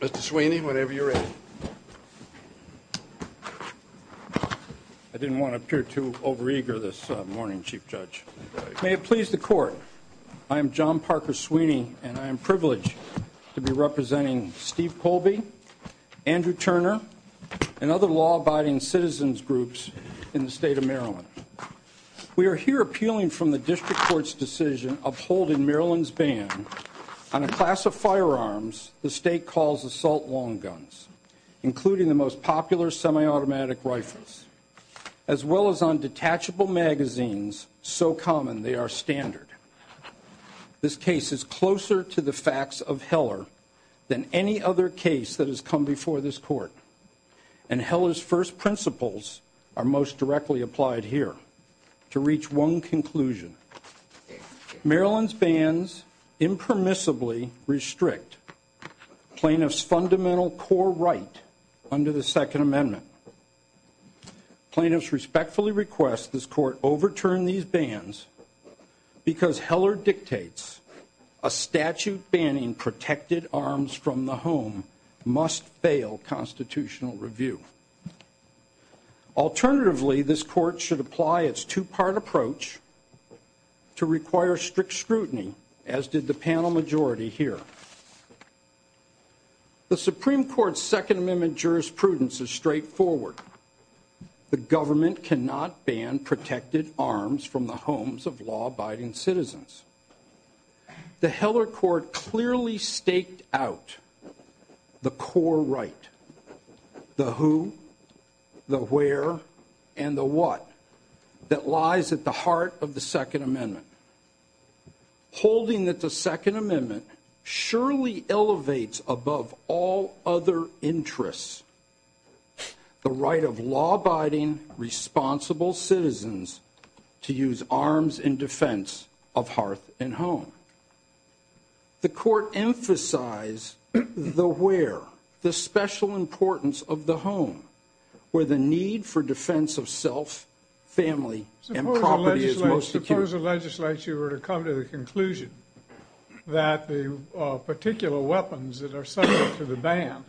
Mr. Sweeney, whenever you're ready. I didn't want to appear too overeager this morning, Chief Judge. May it please the Court, I am John Parker Sweeney, and I am privileged to be representing Steve Kolbe, Andrew Turner, and other law-abiding citizens groups in the state of Maryland. We are here appealing from the District Court's decision upholding Maryland's ban on a class of firearms the state calls assault long guns, including the most popular semi-automatic rifles, as well as on detachable magazines so common they are standard. This case is closer to the facts of Heller than any other case that has come before this Court, and Heller's first principles are most directly applied here. To reach one conclusion, Maryland's bans impermissibly restrict plaintiffs' fundamental core right under the Second Amendment. Plaintiffs respectfully request this Court overturn these bans because Heller dictates a statute banning protected arms from the home must fail constitutional review. Alternatively, this Court should apply its two-part approach to require strict scrutiny, as did the panel majority here. The Supreme Court's Second Amendment jurisprudence is straightforward. The government cannot ban protected arms from the homes of law-abiding citizens. The Heller Court clearly staked out the core right, the who, the where, and the what, that lies at the heart of the Second Amendment, holding that the Second Amendment surely elevates above all other interests the right of law-abiding, responsible citizens to use arms in defense of hearth and home. The Court emphasized the where, the special importance of the home, where the need for defense of self, family, and property is most secure. Suppose the legislature were to come to the conclusion that the particular weapons that are subject to the ban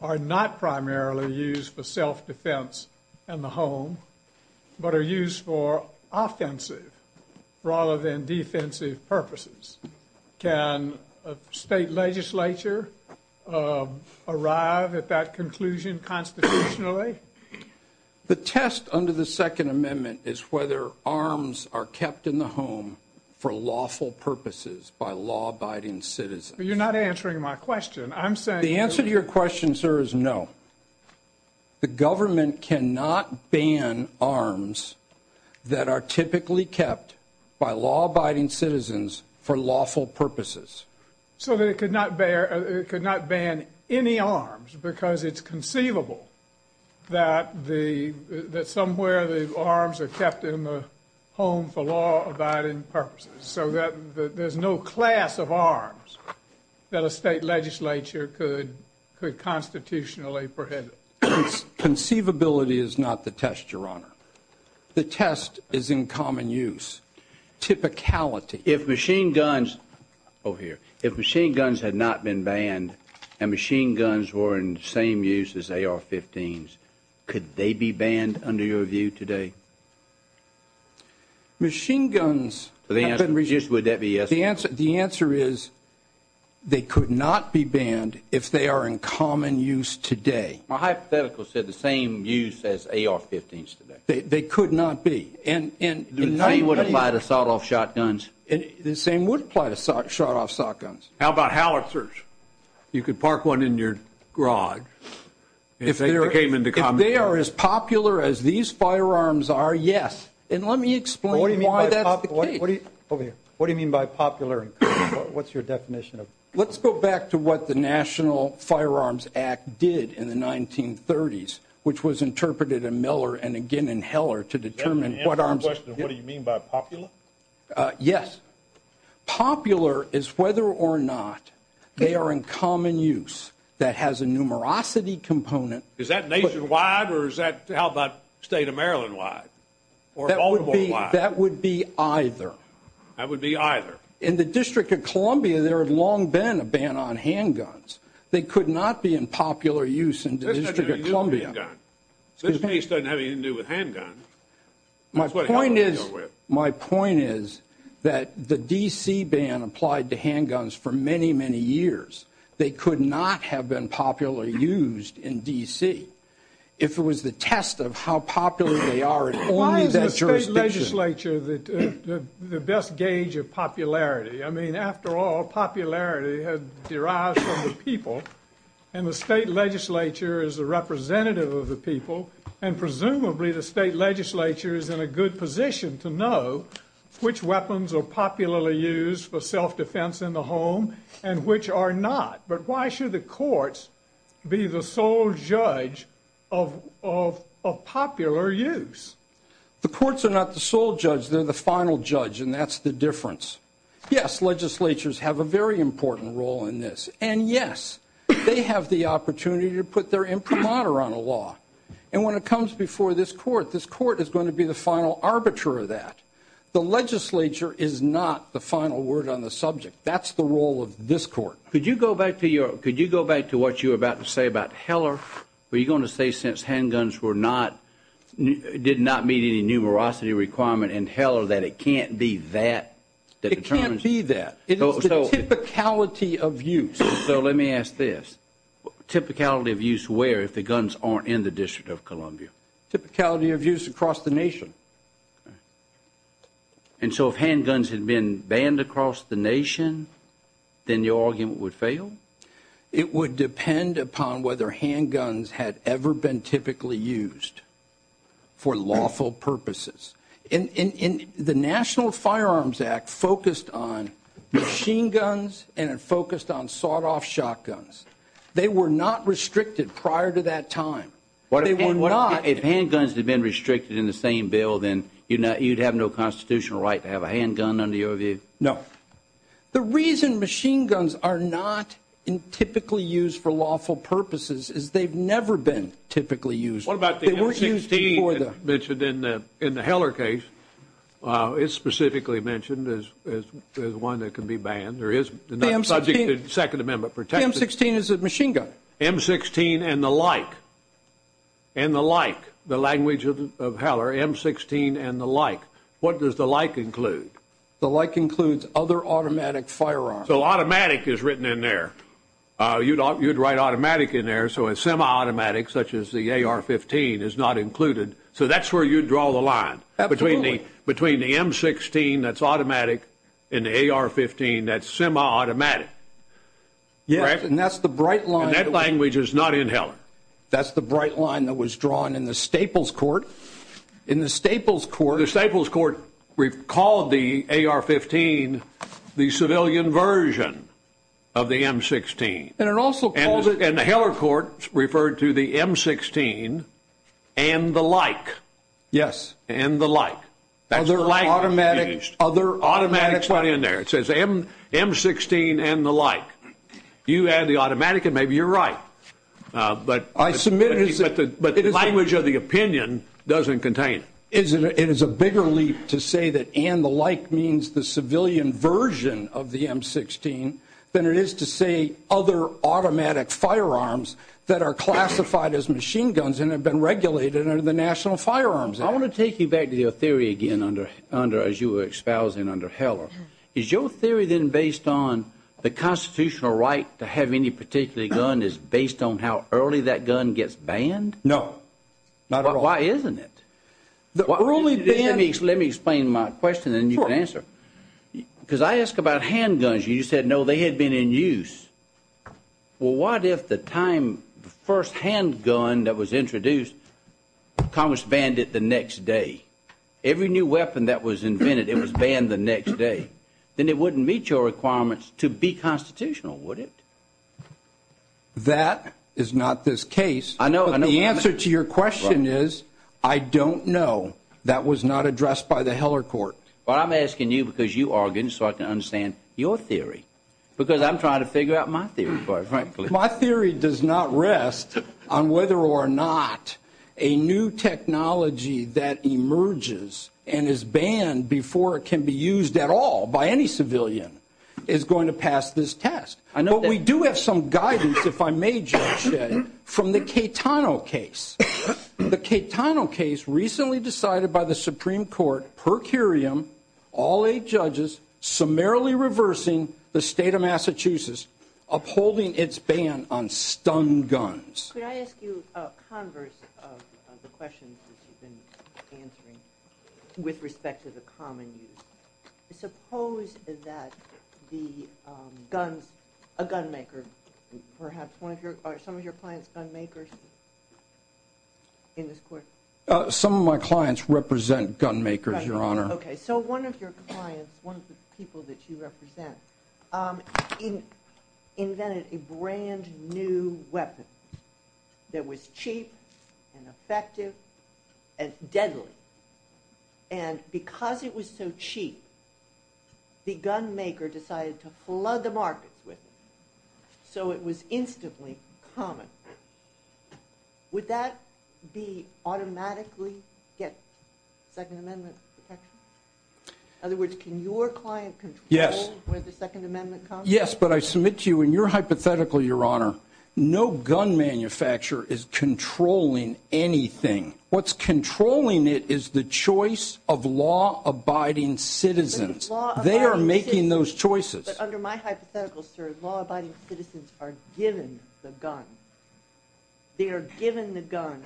are not primarily used for self-defense in the home, but are used for offensive rather than defensive purposes. Can a state legislature arrive at that conclusion constitutionally? The test under the Second Amendment is whether arms are kept in the home for lawful purposes by law-abiding citizens. You're not answering my question. I'm saying... The answer to your question, sir, is no. The government cannot ban arms that are typically kept by law-abiding citizens for lawful purposes. So it could not ban any arms because it's conceivable that somewhere the arms are kept in the home for law-abiding purposes, so that there's no class of arms that a state legislature could constitutionally prohibit. Conceivability is not the test, Your Honor. The test is in common use. Typicality... If machine guns... Oh, here. If machine guns had not been banned, and machine guns were in the same use as AR-15s, could they be banned under your view today? Machine guns... Would that be yes or no? The answer is they could not be banned if they are in common use today. My hypothetical said the same use as AR-15s today. They could not be. The same would apply to sawed-off shotguns. The same would apply to sawed-off shotguns. How about howitzers? You could park one in your garage. If they are as popular as these firearms are, yes. And let me explain why that's the case. What do you mean by popular? What's your definition of popular? Let's go back to what the National Firearms Act did in the 1930s, which was interpreted in Miller and again in Heller to determine what arms... What do you mean by popular? Yes. Popular is whether or not they are in common use that has a numerosity component... Is that nationwide or is that, how about, state-of-Maryland-wide? That would be either. That would be either. In the District of Columbia, there had long been a ban on handguns. They could not be in popular use in the District of Columbia. This case doesn't have anything to do with handguns. My point is that the D.C. ban applied to handguns for many, many years. They could not have been popularly used in D.C. if it was the test of how popular they are in only that jurisdiction. Why is the state legislature the best gauge of popularity? I mean, after all, popularity derives from the people, and the state legislature is a representative of the people, and presumably the state legislature is in a good position to know which weapons are popularly used for self-defense in the home and which are not. But why should the courts be the sole judge of popular use? The courts are not the sole judge. They're the final judge, and that's the difference. Yes, legislatures have a very important role in this, and yes, they have the opportunity to put their imprimatur on the law. And when it comes before this court, this court is going to be the final arbiter of that. The legislature is not the final word on the subject. That's the role of this court. Could you go back to what you were about to say about Heller? Were you going to say since handguns did not meet any numerosity requirement in Heller that it can't be that? It can't be that. It's a typicality of use. So let me ask this. Typicality of use where if the guns aren't in the District of Columbia? Typicality of use across the nation. And so if handguns had been banned across the nation, then your argument would fail? It would depend upon whether handguns had ever been typically used for lawful purposes. And the National Firearms Act focused on machine guns and it focused on sawed-off shotguns. They were not restricted prior to that time. If handguns had been restricted in the same bill, then you'd have no constitutional right to have a handgun under the OVA? No. The reason machine guns are not typically used for lawful purposes is they've never been typically used. What about the M-16 mentioned in the Heller case? It's specifically mentioned as one that can be banned. There is the Second Amendment protected. The M-16 is a machine gun. M-16 and the like. And the like. The language of Heller, M-16 and the like. What does the like include? The like includes other automatic firearms. So automatic is written in there. You'd write automatic in there. So a semi-automatic such as the AR-15 is not included. So that's where you'd draw the line. Absolutely. Between the M-16 that's automatic and the AR-15 that's semi-automatic. Yes, and that's the bright line. And that language is not in Heller. That's the bright line that was drawn in the Staples Court. In the Staples Court. The Staples Court called the AR-15 the civilian version of the M-16. And it also calls it. And the Heller Court referred to the M-16 and the like. Yes. And the like. That's the like. Other automatic. That's what's in there. It says M-16 and the like. You add the automatic and maybe you're right. But the language of the opinion doesn't contain it. It is a bigger leap to say that and the like means the civilian version of the M-16 than it is to say other automatic firearms that are classified as machine guns and have been regulated under the National Firearms Act. I want to take you back to your theory again as you were espousing under Heller. Is your theory then based on the constitutional right to have any particular gun is based on how early that gun gets banned? No. Not at all. Why isn't it? Let me explain my question and you can answer. Because I asked about handguns. You said, no, they had been in use. Well, what if the time the first handgun that was introduced, Thomas banned it the next day? Every new weapon that was invented, it was banned the next day. Then it wouldn't meet your requirements to be constitutional, would it? That is not this case. The answer to your question is I don't know. That was not addressed by the Heller court. Well, I'm asking you because you are going to start to understand your theory. Because I'm trying to figure out my theory. My theory does not rest on whether or not a new technology that emerges and is banned before it can be used at all by any civilian is going to pass this test. But we do have some guidance, if I may, Judge Shedding, from the Caetano case. The Caetano case recently decided by the Supreme Court per curiam, all eight judges summarily reversing the state of Massachusetts, upholding its ban on stun guns. Could I ask you a converse of the questions you've been answering with respect to the common use? Suppose that a gun maker, perhaps some of your clients are gun makers in this court. Some of my clients represent gun makers, Your Honor. Okay, so one of your clients, one of the people that you represent, invented a brand new weapon that was cheap and effective and deadly. And because it was so cheap, the gun maker decided to flood the markets with it. So it was instantly common. Would that automatically get Second Amendment protection? In other words, can your client control where the Second Amendment comes from? Yes, but I submit to you in your hypothetical, Your Honor, no gun manufacturer is controlling anything. What's controlling it is the choice of law-abiding citizens. They are making those choices. But under my hypothetical, sir, law-abiding citizens are given the gun. They are given the gun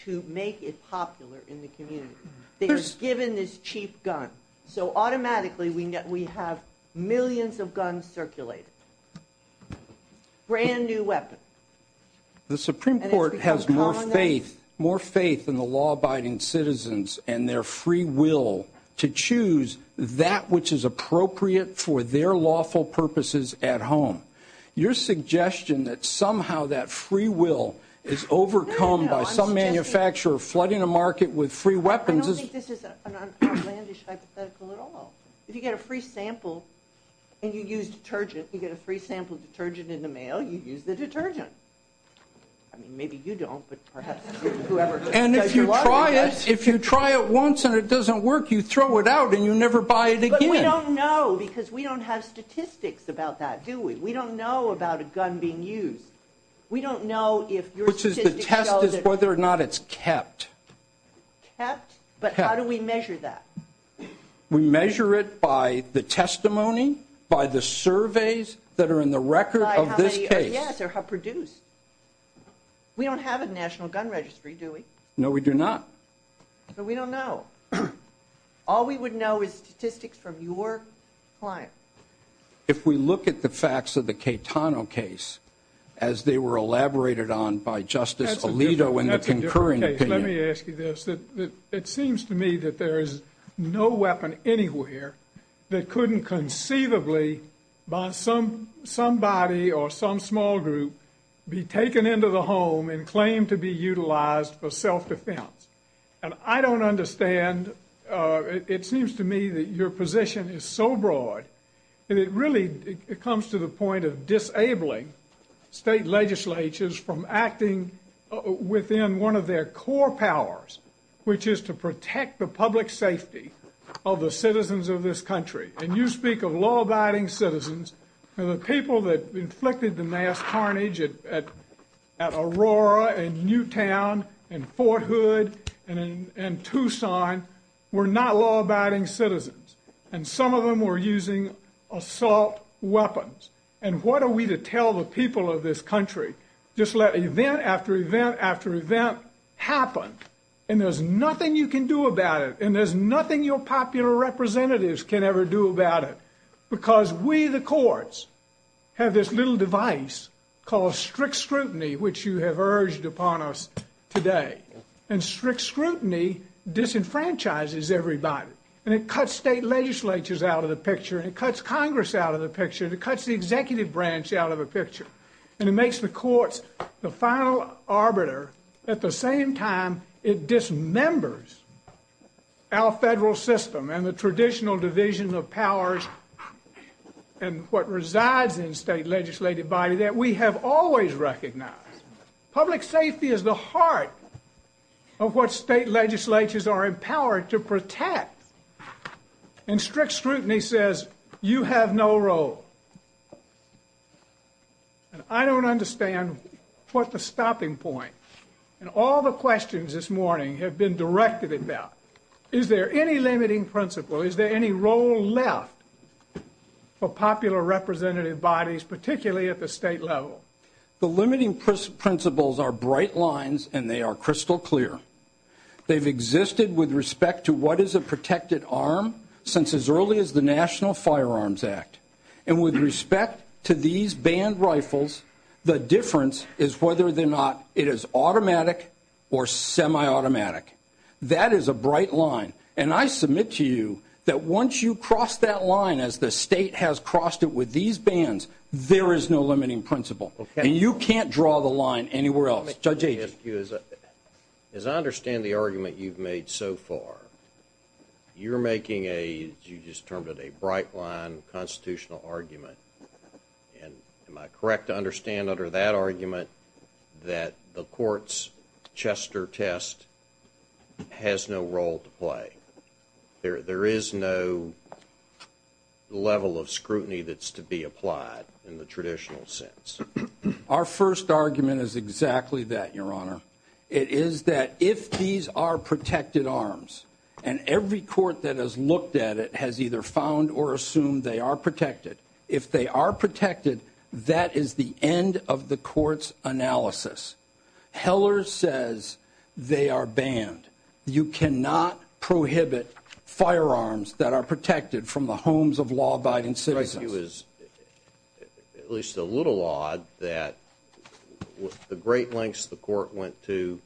to make it popular in the community. They are given this cheap gun. So automatically we have millions of guns circulating. Brand new weapon. The Supreme Court has more faith in the law-abiding citizens and their free will to choose that which is appropriate for their lawful purposes at home. Your suggestion that somehow that free will is overcome by some manufacturer flooding a market with free weapons is... I don't think this is an outlandish hypothetical at all. If you get a free sample and you use detergent, if you get a free sample of detergent in the mail, you use the detergent. I mean, maybe you don't, but perhaps whoever... And if you try it, if you try it once and it doesn't work, you throw it out and you never buy it again. But we don't know because we don't have statistics about that, do we? We don't know about a gun being used. We don't know if your statistics... Which is the test is whether or not it's kept. Kept? But how do we measure that? We measure it by the testimony, by the surveys that are in the record of this case. Yes, or how produced. We don't have a national gun registry, do we? No, we do not. But we don't know. All we would know is statistics from your client. If we look at the facts of the Caetano case, as they were elaborated on by Justice Alito in the concurrent opinion... No weapon anywhere that couldn't conceivably by somebody or some small group be taken into the home and claimed to be utilized for self-defense. And I don't understand... It seems to me that your position is so broad. And it really comes to the point of disabling state legislatures from acting within one of their core powers, which is to protect the public safety of the citizens of this country. And you speak of law-abiding citizens. And the people that inflicted the mass harnage at Aurora and Newtown and Fort Hood and Tucson were not law-abiding citizens. And some of them were using assault weapons. And what are we to tell the people of this country? Just let event after event after event happen. And there's nothing you can do about it. And there's nothing your popular representatives can ever do about it. Because we, the courts, have this little device called strict scrutiny, which you have urged upon us today. And strict scrutiny disenfranchises everybody. And it cuts state legislatures out of the picture. And it cuts Congress out of the picture. And it cuts the executive branch out of the picture. And it makes the courts the final arbiter. At the same time, it dismembers our federal system and the traditional division of powers and what resides in the state legislative body that we have always recognized. Public safety is the heart of what state legislatures are empowered to protect. And strict scrutiny says, you have no role. And I don't understand what the stopping point. And all the questions this morning have been directed at that. Is there any limiting principle? Is there any role left for popular representative bodies, particularly at the state level? The limiting principles are bright lines and they are crystal clear. They've existed with respect to what is a protected arm since as early as the National Firearms Act. And with respect to these banned rifles, the difference is whether or not it is automatic or semi-automatic. That is a bright line. And I submit to you that once you cross that line, as the state has crossed it with these bans, there is no limiting principle. And you can't draw the line anywhere else. As I understand the argument you've made so far, you're making a, you just termed it, a bright line constitutional argument. And am I correct to understand under that argument that the court's Chester test has no role to play? There is no level of scrutiny that's to be applied in the traditional sense. Our first argument is exactly that, Your Honor. It is that if these are protected arms, and every court that has looked at it has either found or assumed they are protected. If they are protected, that is the end of the court's analysis. Heller says they are banned. You cannot prohibit firearms that are protected from the homes of law-abiding citizens. Your Honor, I think it was at least a little odd that the great lengths the court went to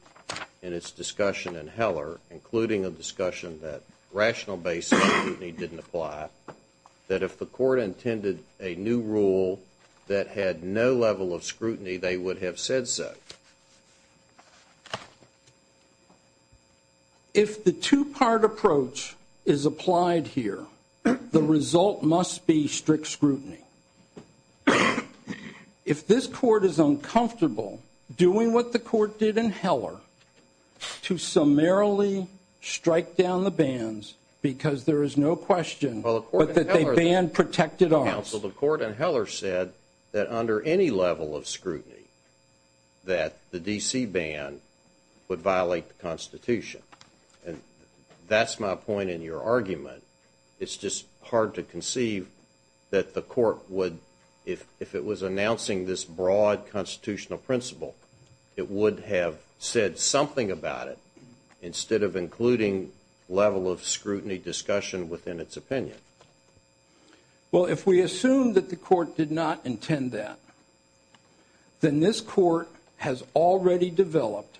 in its discussion in Heller, including a discussion that rational basis didn't apply, that if the court intended a new rule that had no level of scrutiny, they would have said so. If the two-part approach is applied here, the result must be strict scrutiny. If this court is uncomfortable doing what the court did in Heller to summarily strike down the bans because there is no question that they ban protected arms... Counsel, the court in Heller said that under any level of scrutiny That's my point in your argument. It's just hard to conceive that the court would, if it was announcing this broad constitutional principle, it would have said something about it instead of including level of scrutiny discussion within its opinion. Well, if we assume that the court did not intend that, then this court has already developed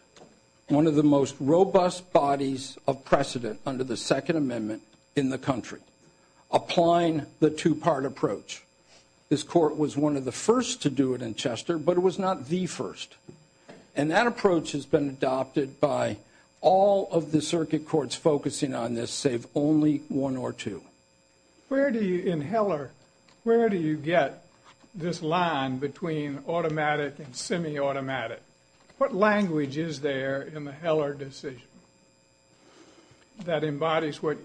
one of the most robust bodies of precedent under the Second Amendment in the country, applying the two-part approach. This court was one of the first to do it in Chester, but it was not the first. And that approach has been adopted by all of the circuit courts focusing on this, save only one or two. In Heller, where do you get this line between automatic and semi-automatic? What language is there in the Heller decision that embodies what...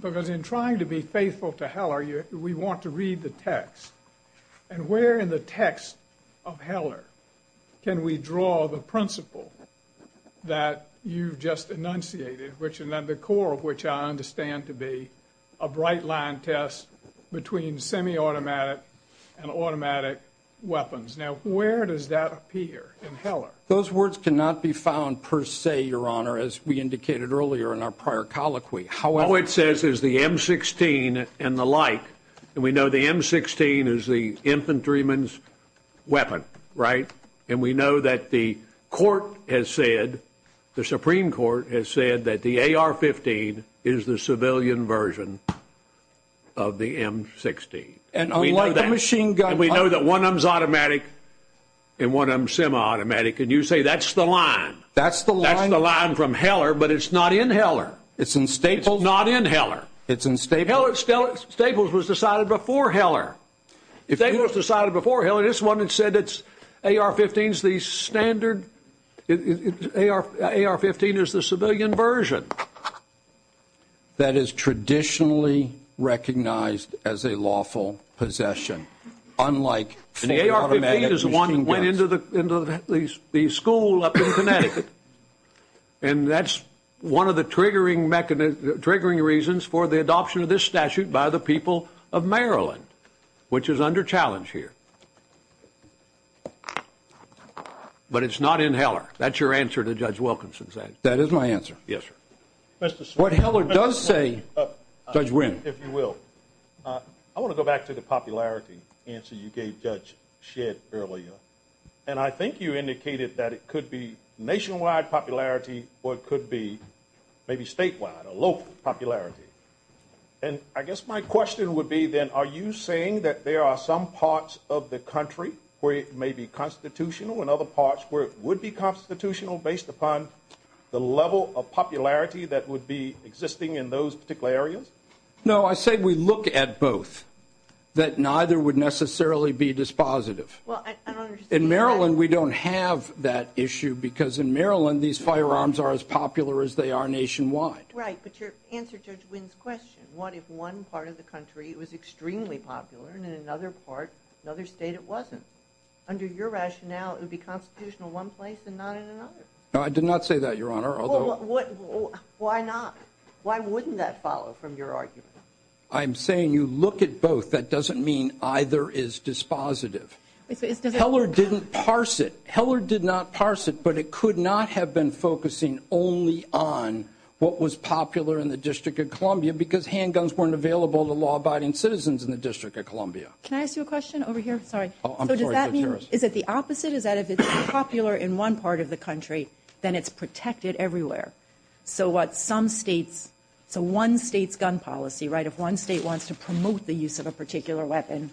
Because in trying to be faithful to Heller, we want to read the text. And where in the text of Heller can we draw the principle that you just enunciated, which is the core of which I understand to be a bright-line test between semi-automatic and automatic weapons. Now, where does that appear in Heller? Those words cannot be found per se, Your Honor, as we indicated earlier in our prior colloquy. All it says is the M16 and the like. And we know the M16 is the infantryman's weapon, right? And we know that the court has said, the Supreme Court has said, that the AR-15 is the civilian version of the M16. And we know that. And we know that one of them is automatic and one of them is semi-automatic. And you say that's the line. That's the line from Heller, but it's not in Heller. It's in Staples, not in Heller. It's in Staples. Staples was decided before Heller. If Staples was decided before Heller, this woman said it's AR-15 is the standard... AR-15 is the civilian version. That is traditionally recognized as a lawful possession. Unlike... AR-15 is one that went into the school up in Connecticut. And that's one of the triggering reasons for the adoption of this statute by the people of Maryland, which is under challenge here. But it's not in Heller. That's your answer to Judge Wilkinson's answer. That is my answer. Yes, sir. What Heller does say... Judge Wynn. If you will. I want to go back to the popularity answer you gave Judge Shedd earlier. And I think you indicated that it could be nationwide popularity or it could be maybe statewide or local popularity. And I guess my question would be then, are you saying that there are some parts of the country where it may be constitutional and other parts where it would be constitutional based upon the level of popularity that would be existing in those particular areas? No, I say we look at both, that neither would necessarily be dispositive. Well, I don't understand... In Maryland, we don't have that issue because in Maryland these firearms are as popular as they are nationwide. Right, but your answer to Judge Wynn's question, what if one part of the country was extremely popular and in another part, another state, it wasn't? Under your rationale, it would be constitutional in one place and not in another. I did not say that, Your Honor, although... Why not? Why wouldn't that follow from your argument? I'm saying you look at both. That doesn't mean either is dispositive. Heller didn't parse it. Heller did not parse it, but it could not have been focusing only on what was popular in the District of Columbia because handguns weren't available to law-abiding citizens in the District of Columbia. Can I ask you a question over here? Sorry. So does that mean, is it the opposite? The opposite is that if it's popular in one part of the country, then it's protected everywhere. So what some states... It's a one-state gun policy, right? If one state wants to promote the use of a particular weapon,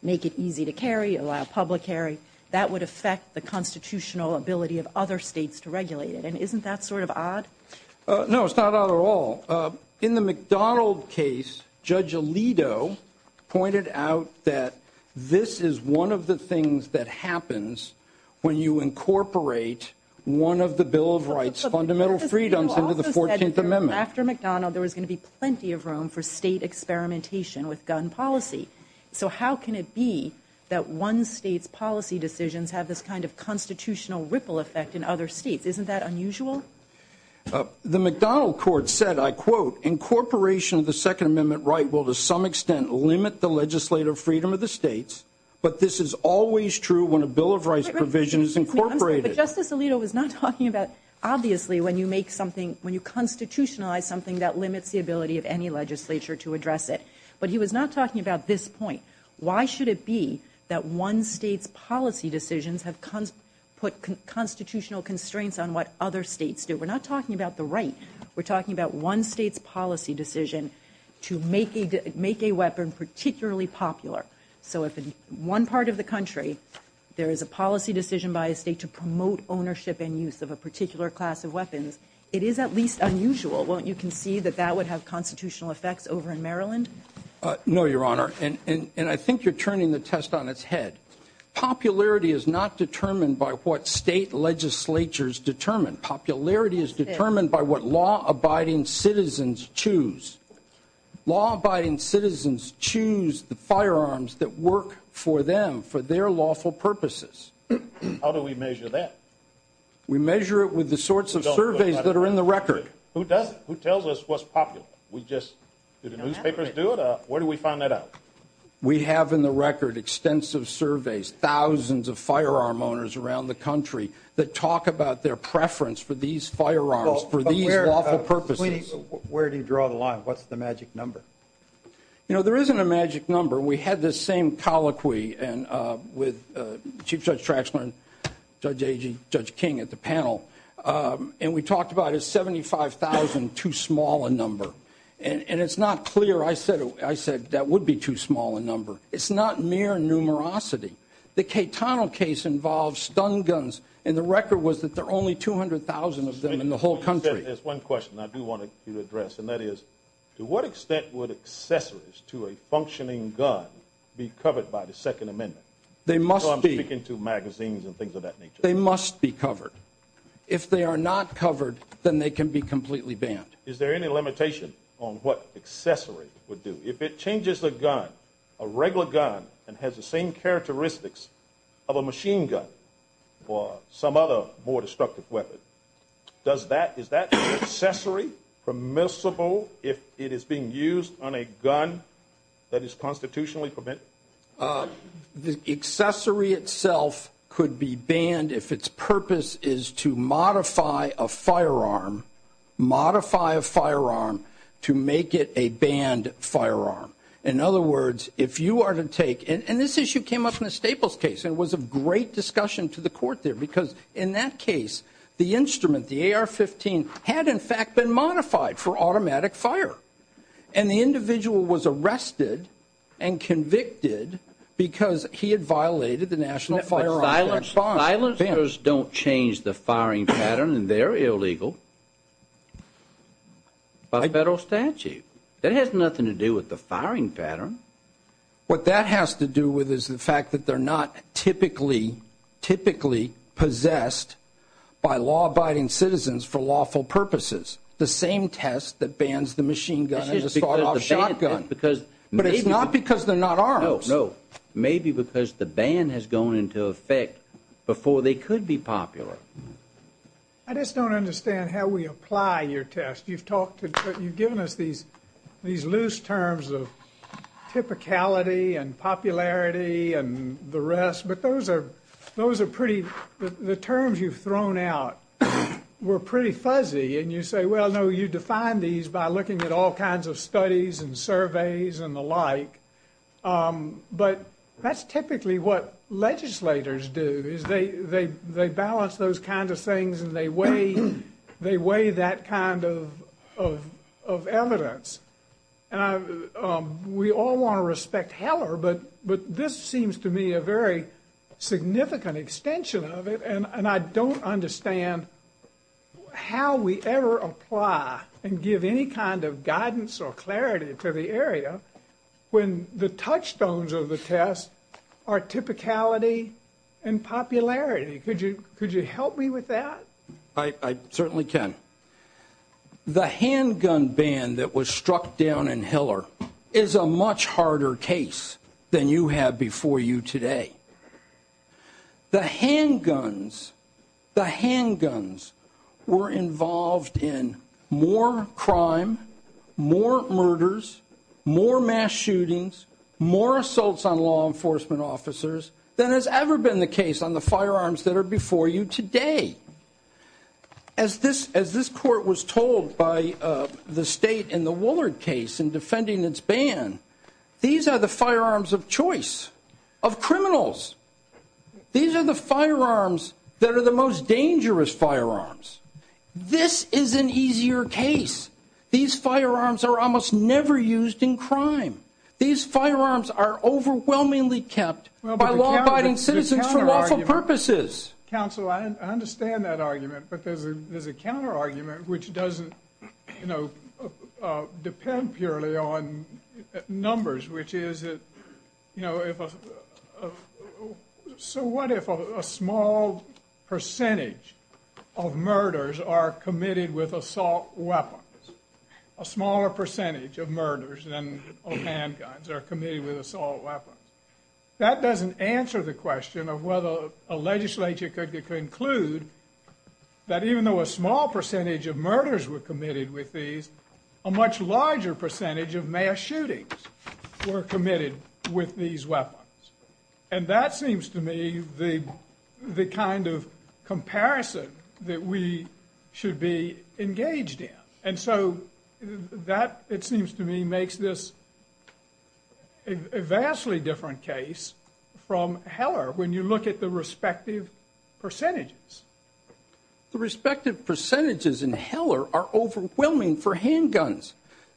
make it easy to carry, allow public carry, that would affect the constitutional ability of other states to regulate it, and isn't that sort of odd? No, it's not odd at all. In the McDonald case, Judge Alito pointed out that this is one of the things that happens when you incorporate one of the Bill of Rights fundamental freedoms into the 14th Amendment. After McDonald, there was going to be plenty of room for state experimentation with gun policy. So how can it be that one state's policy decisions have this kind of constitutional ripple effect in other states? Isn't that unusual? The McDonald court said, I quote, "...incorporation of the Second Amendment right will to some extent limit the legislative freedom of the states, but this is always true when a Bill of Rights provision is incorporated." But Justice Alito was not talking about, obviously, when you make something, when you constitutionalize something, that limits the ability of any legislature to address it. But he was not talking about this point. Why should it be that one state's policy decisions have put constitutional constraints on what other states do? We're not talking about the right. We're talking about one state's policy decision to make a weapon particularly popular. So if in one part of the country, there is a policy decision by a state to promote ownership and use of a particular class of weapons, it is at least unusual. Won't you concede that that would have constitutional effects over in Maryland? No, Your Honor, and I think you're turning the test on its head. Popularity is not determined by what state legislatures determine. Popularity is determined by what law-abiding citizens choose. Law-abiding citizens choose the firearms that work for them for their lawful purposes. How do we measure that? We measure it with the sorts of surveys that are in the record. Who tells us what's popular? Do the newspapers do it? Where do we find that out? We have in the record extensive surveys, thousands of firearm owners around the country that talk about their preference for these firearms for these lawful purposes. Where do you draw the line? What's the magic number? You know, there isn't a magic number. We had this same colloquy with Chief Judge Trashman and Judge King at the panel, and we talked about a 75,000 too small a number. And it's not clear. I said that would be too small a number. It's not mere numerosity. The Catano case involves stun guns, and the record was that there are only 200,000 of them in the whole country. There's one question I do want to address, and that is to what extent would accessories to a functioning gun be covered by the Second Amendment? I'm speaking to magazines and things of that nature. They must be covered. If they are not covered, then they can be completely banned. Is there any limitation on what accessories would do? If it changes the gun, a regular gun, and has the same characteristics of a machine gun or some other more destructive weapon, is that accessory permissible if it is being used on a gun that is constitutionally forbidden? The accessory itself could be banned if its purpose is to modify a firearm, modify a firearm to make it a banned firearm. In other words, if you are to take... And this issue came up in the Staples case, and it was a great discussion to the court there because in that case, the instrument, the AR-15, had in fact been modified for automatic fire, and the individual was arrested and convicted because he had violated the National Firearms Act. But silencers don't change the firing pattern, and they're illegal by federal statute. That has nothing to do with the firing pattern. What that has to do with is the fact that they're not typically possessed by law-abiding citizens for lawful purposes. The same test that bans the machine gun and the spot-off shotgun. But it's not because they're not armed. Maybe because the ban has gone into effect before they could be popular. I just don't understand how we apply your test. You've given us these loose terms of typicality and popularity and the rest, but those are pretty... The terms you've thrown out were pretty fuzzy, and you say, well, no, you define these by looking at all kinds of studies and surveys and the like. But that's typically what legislators do, is they balance those kinds of things and they weigh that kind of evidence. And we all want to respect Heller, but this seems to me a very significant extension of it, and I don't understand how we ever apply and give any kind of guidance or clarity to the area when the touchstones of the test are typicality and popularity. Could you help me with that? I certainly can. The handgun ban that was struck down in Heller is a much harder case than you had before you today. The handguns, the handguns were involved in more crime, more murders, more mass shootings, more assaults on law enforcement officers than has ever been the case on the firearms that are before you today. As this court was told by the state in the Woolard case in defending its ban, these are the firearms of choice, of criminals. These are the firearms that are the most dangerous firearms. This is an easier case. These firearms are almost never used in crime. These firearms are overwhelmingly kept by law-abiding citizens for lawful purposes. Counsel, I understand that argument because there's a counterargument which doesn't depend purely on numbers, which is, you know, so what if a small percentage of murders are committed with assault weapons, a smaller percentage of murders of handguns are committed with assault weapons? That doesn't answer the question of whether a legislature could conclude that even though a small percentage of murders were committed with these, a much larger percentage of mass shootings were committed with these weapons. And that seems to me the kind of comparison that we should be engaged in. And so that, it seems to me, makes this a vastly different case from Heller when you look at the respective percentages. The respective percentages in Heller are overwhelming for handguns.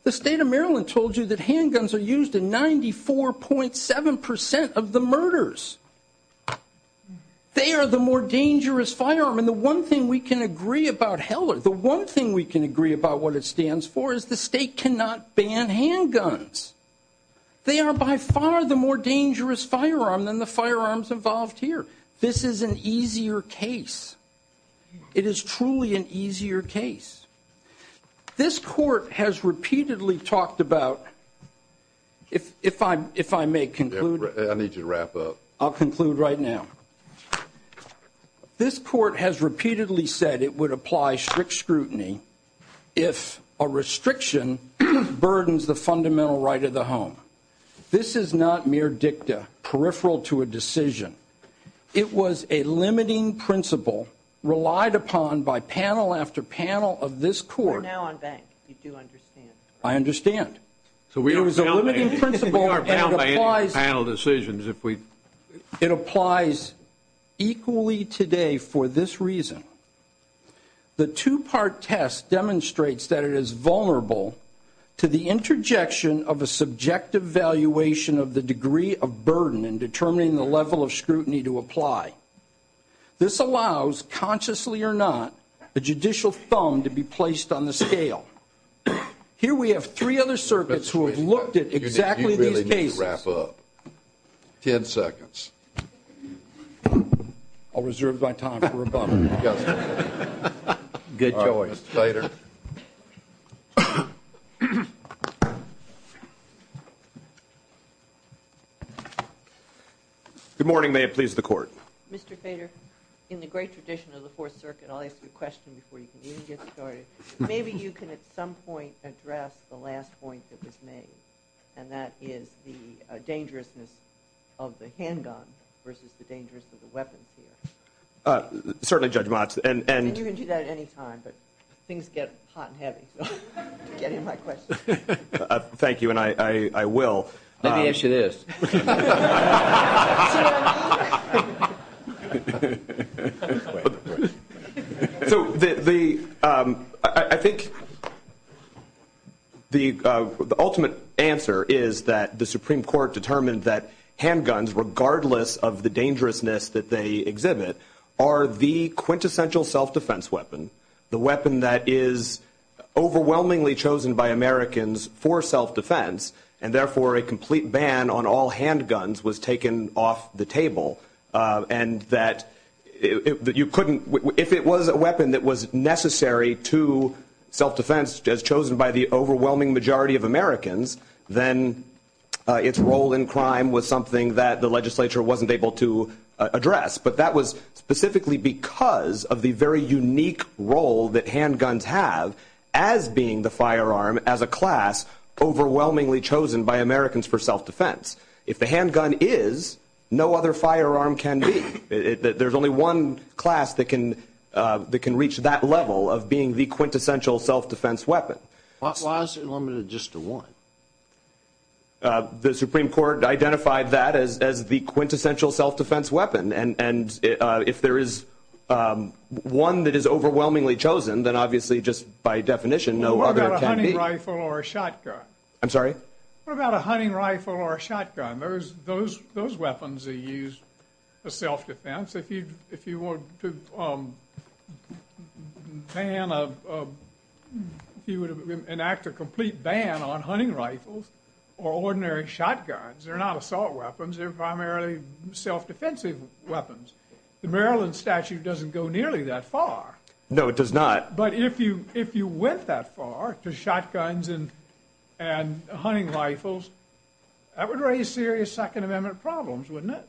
The state of Maryland told you that handguns are used in 94.7% of the murders. They are the more dangerous firearm, and the one thing we can agree about Heller, the one thing we can agree about what it stands for is the state cannot ban handguns. They are by far the more dangerous firearm than the firearms involved here. This is an easier case. It is truly an easier case. This court has repeatedly talked about, if I may conclude. I need you to wrap up. I'll conclude right now. This court has repeatedly said it would apply strict scrutiny if a restriction burdens the fundamental right of the home. This is not mere dicta, peripheral to a decision. It was a limiting principle relied upon by panel after panel of this court. We're now on banks, if you do understand. I understand. It was a limiting principle, and it applies... Panel decisions, if we... It applies equally today for this reason. The two-part test demonstrates that it is vulnerable to the interjection of a subjective valuation of the degree of burden in determining the level of scrutiny to apply. This allows, consciously or not, the judicial thumb to be placed on the scale. Here we have three other circuits who have looked at exactly these cases. You really need to wrap up. Ten seconds. I'll reserve my time for a moment. Get going. Good morning, ma'am. Please, the court. Mr. Sater, in the great tradition of the Fourth Circuit, I'll ask you a question before you can even get started. Maybe you can, at some point, address the last point that was made, and that is the dangerousness of the handgun versus the dangerousness of the weapon, here. Certainly, Judge Motz. And you can do that at any time, but things get hot and heavy. Get in my question. Thank you, and I will. Let me ask you this. Go ahead. The ultimate answer is that the Supreme Court determined that handguns, regardless of the dangerousness that they exhibit, are the quintessential self-defense weapon, the weapon that is overwhelmingly chosen by Americans for self-defense, and therefore a complete ban on all handguns was taken off the table, and that you couldn't... If it was a weapon that was necessary to self-defense, as chosen by the overwhelming majority of Americans, then its role in crime was something that the legislature wasn't able to address. But that was specifically because of the very unique role that handguns have as being the firearm, as a class, overwhelmingly chosen by Americans for self-defense. If the handgun is, no other firearm can be. There's only one class that can reach that level of being the quintessential self-defense weapon. What laws are limited just to one? The Supreme Court identified that as the quintessential self-defense weapon, and if there is one that is overwhelmingly chosen, then obviously, just by definition, no other can be. What about a hunting rifle or a shotgun? I'm sorry? What about a hunting rifle or a shotgun? Those weapons are used for self-defense. If you want to ban a... If you would enact a complete ban on hunting rifles or ordinary shotguns, they're not assault weapons. They're primarily self-defensive weapons. The Maryland statute doesn't go nearly that far. No, it does not. But if you went that far to shotguns and hunting rifles, that would raise serious Second Amendment problems, wouldn't it?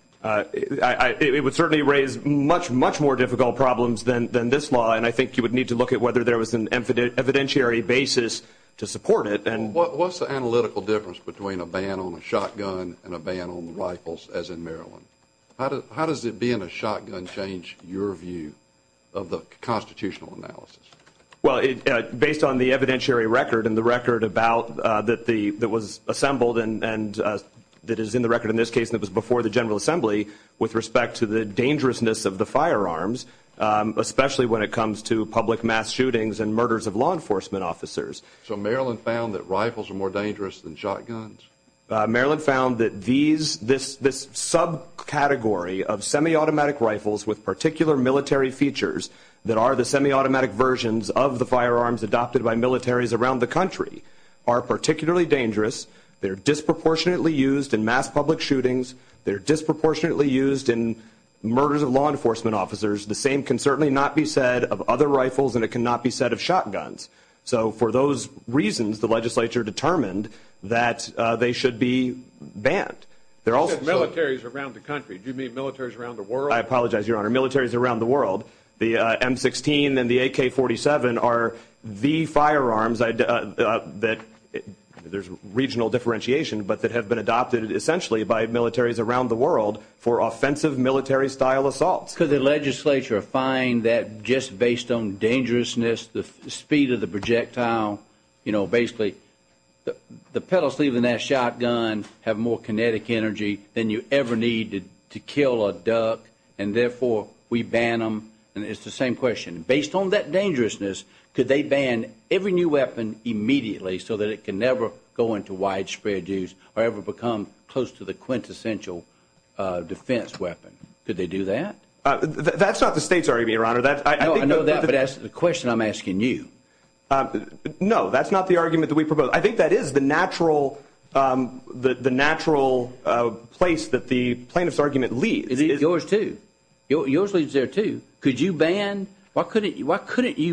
It would certainly raise much, much more difficult problems than this law, and I think you would need to look at whether there was an evidentiary basis to support it. What's the analytical difference between a ban on a shotgun and a ban on rifles, as in Maryland? How does it being a shotgun change your view of the constitutional analysis? Well, based on the evidentiary record and the record that was assembled and that is in the record in this case that was before the General Assembly with respect to the dangerousness of the firearms, especially when it comes to public mass shootings and murders of law enforcement officers. So Maryland found that rifles are more dangerous than shotguns? Maryland found that this subcategory of semi-automatic rifles with particular military features that are the semi-automatic versions of the firearms adopted by militaries around the country are particularly dangerous. They're disproportionately used in mass public shootings. They're disproportionately used in murders of law enforcement officers. The same can certainly not be said of other rifles, and it cannot be said of shotguns. So for those reasons, the legislature determined that they should be banned. You said militaries around the country. Do you mean militaries around the world? I apologize, Your Honor. Militaries around the world. The M16 and the AK-47 are the firearms that, there's regional differentiation, but that have been adopted essentially by militaries around the world for offensive military-style assaults. Could the legislature find that just based on dangerousness, the speed of the projectile, basically the pellets leaving that shotgun have more kinetic energy than you ever need to kill a duck, and therefore we ban them? It's the same question. Based on that dangerousness, could they ban every new weapon immediately so that it can never go into widespread use or ever become close to the quintessential defense weapon? Could they do that? That's not the state's argument, Your Honor. I know that, but that's the question I'm asking you. No, that's not the argument that we propose. I think that is the natural place that the plaintiff's argument leads. It is yours, too. Yours leads there, too. Could you ban? Why couldn't you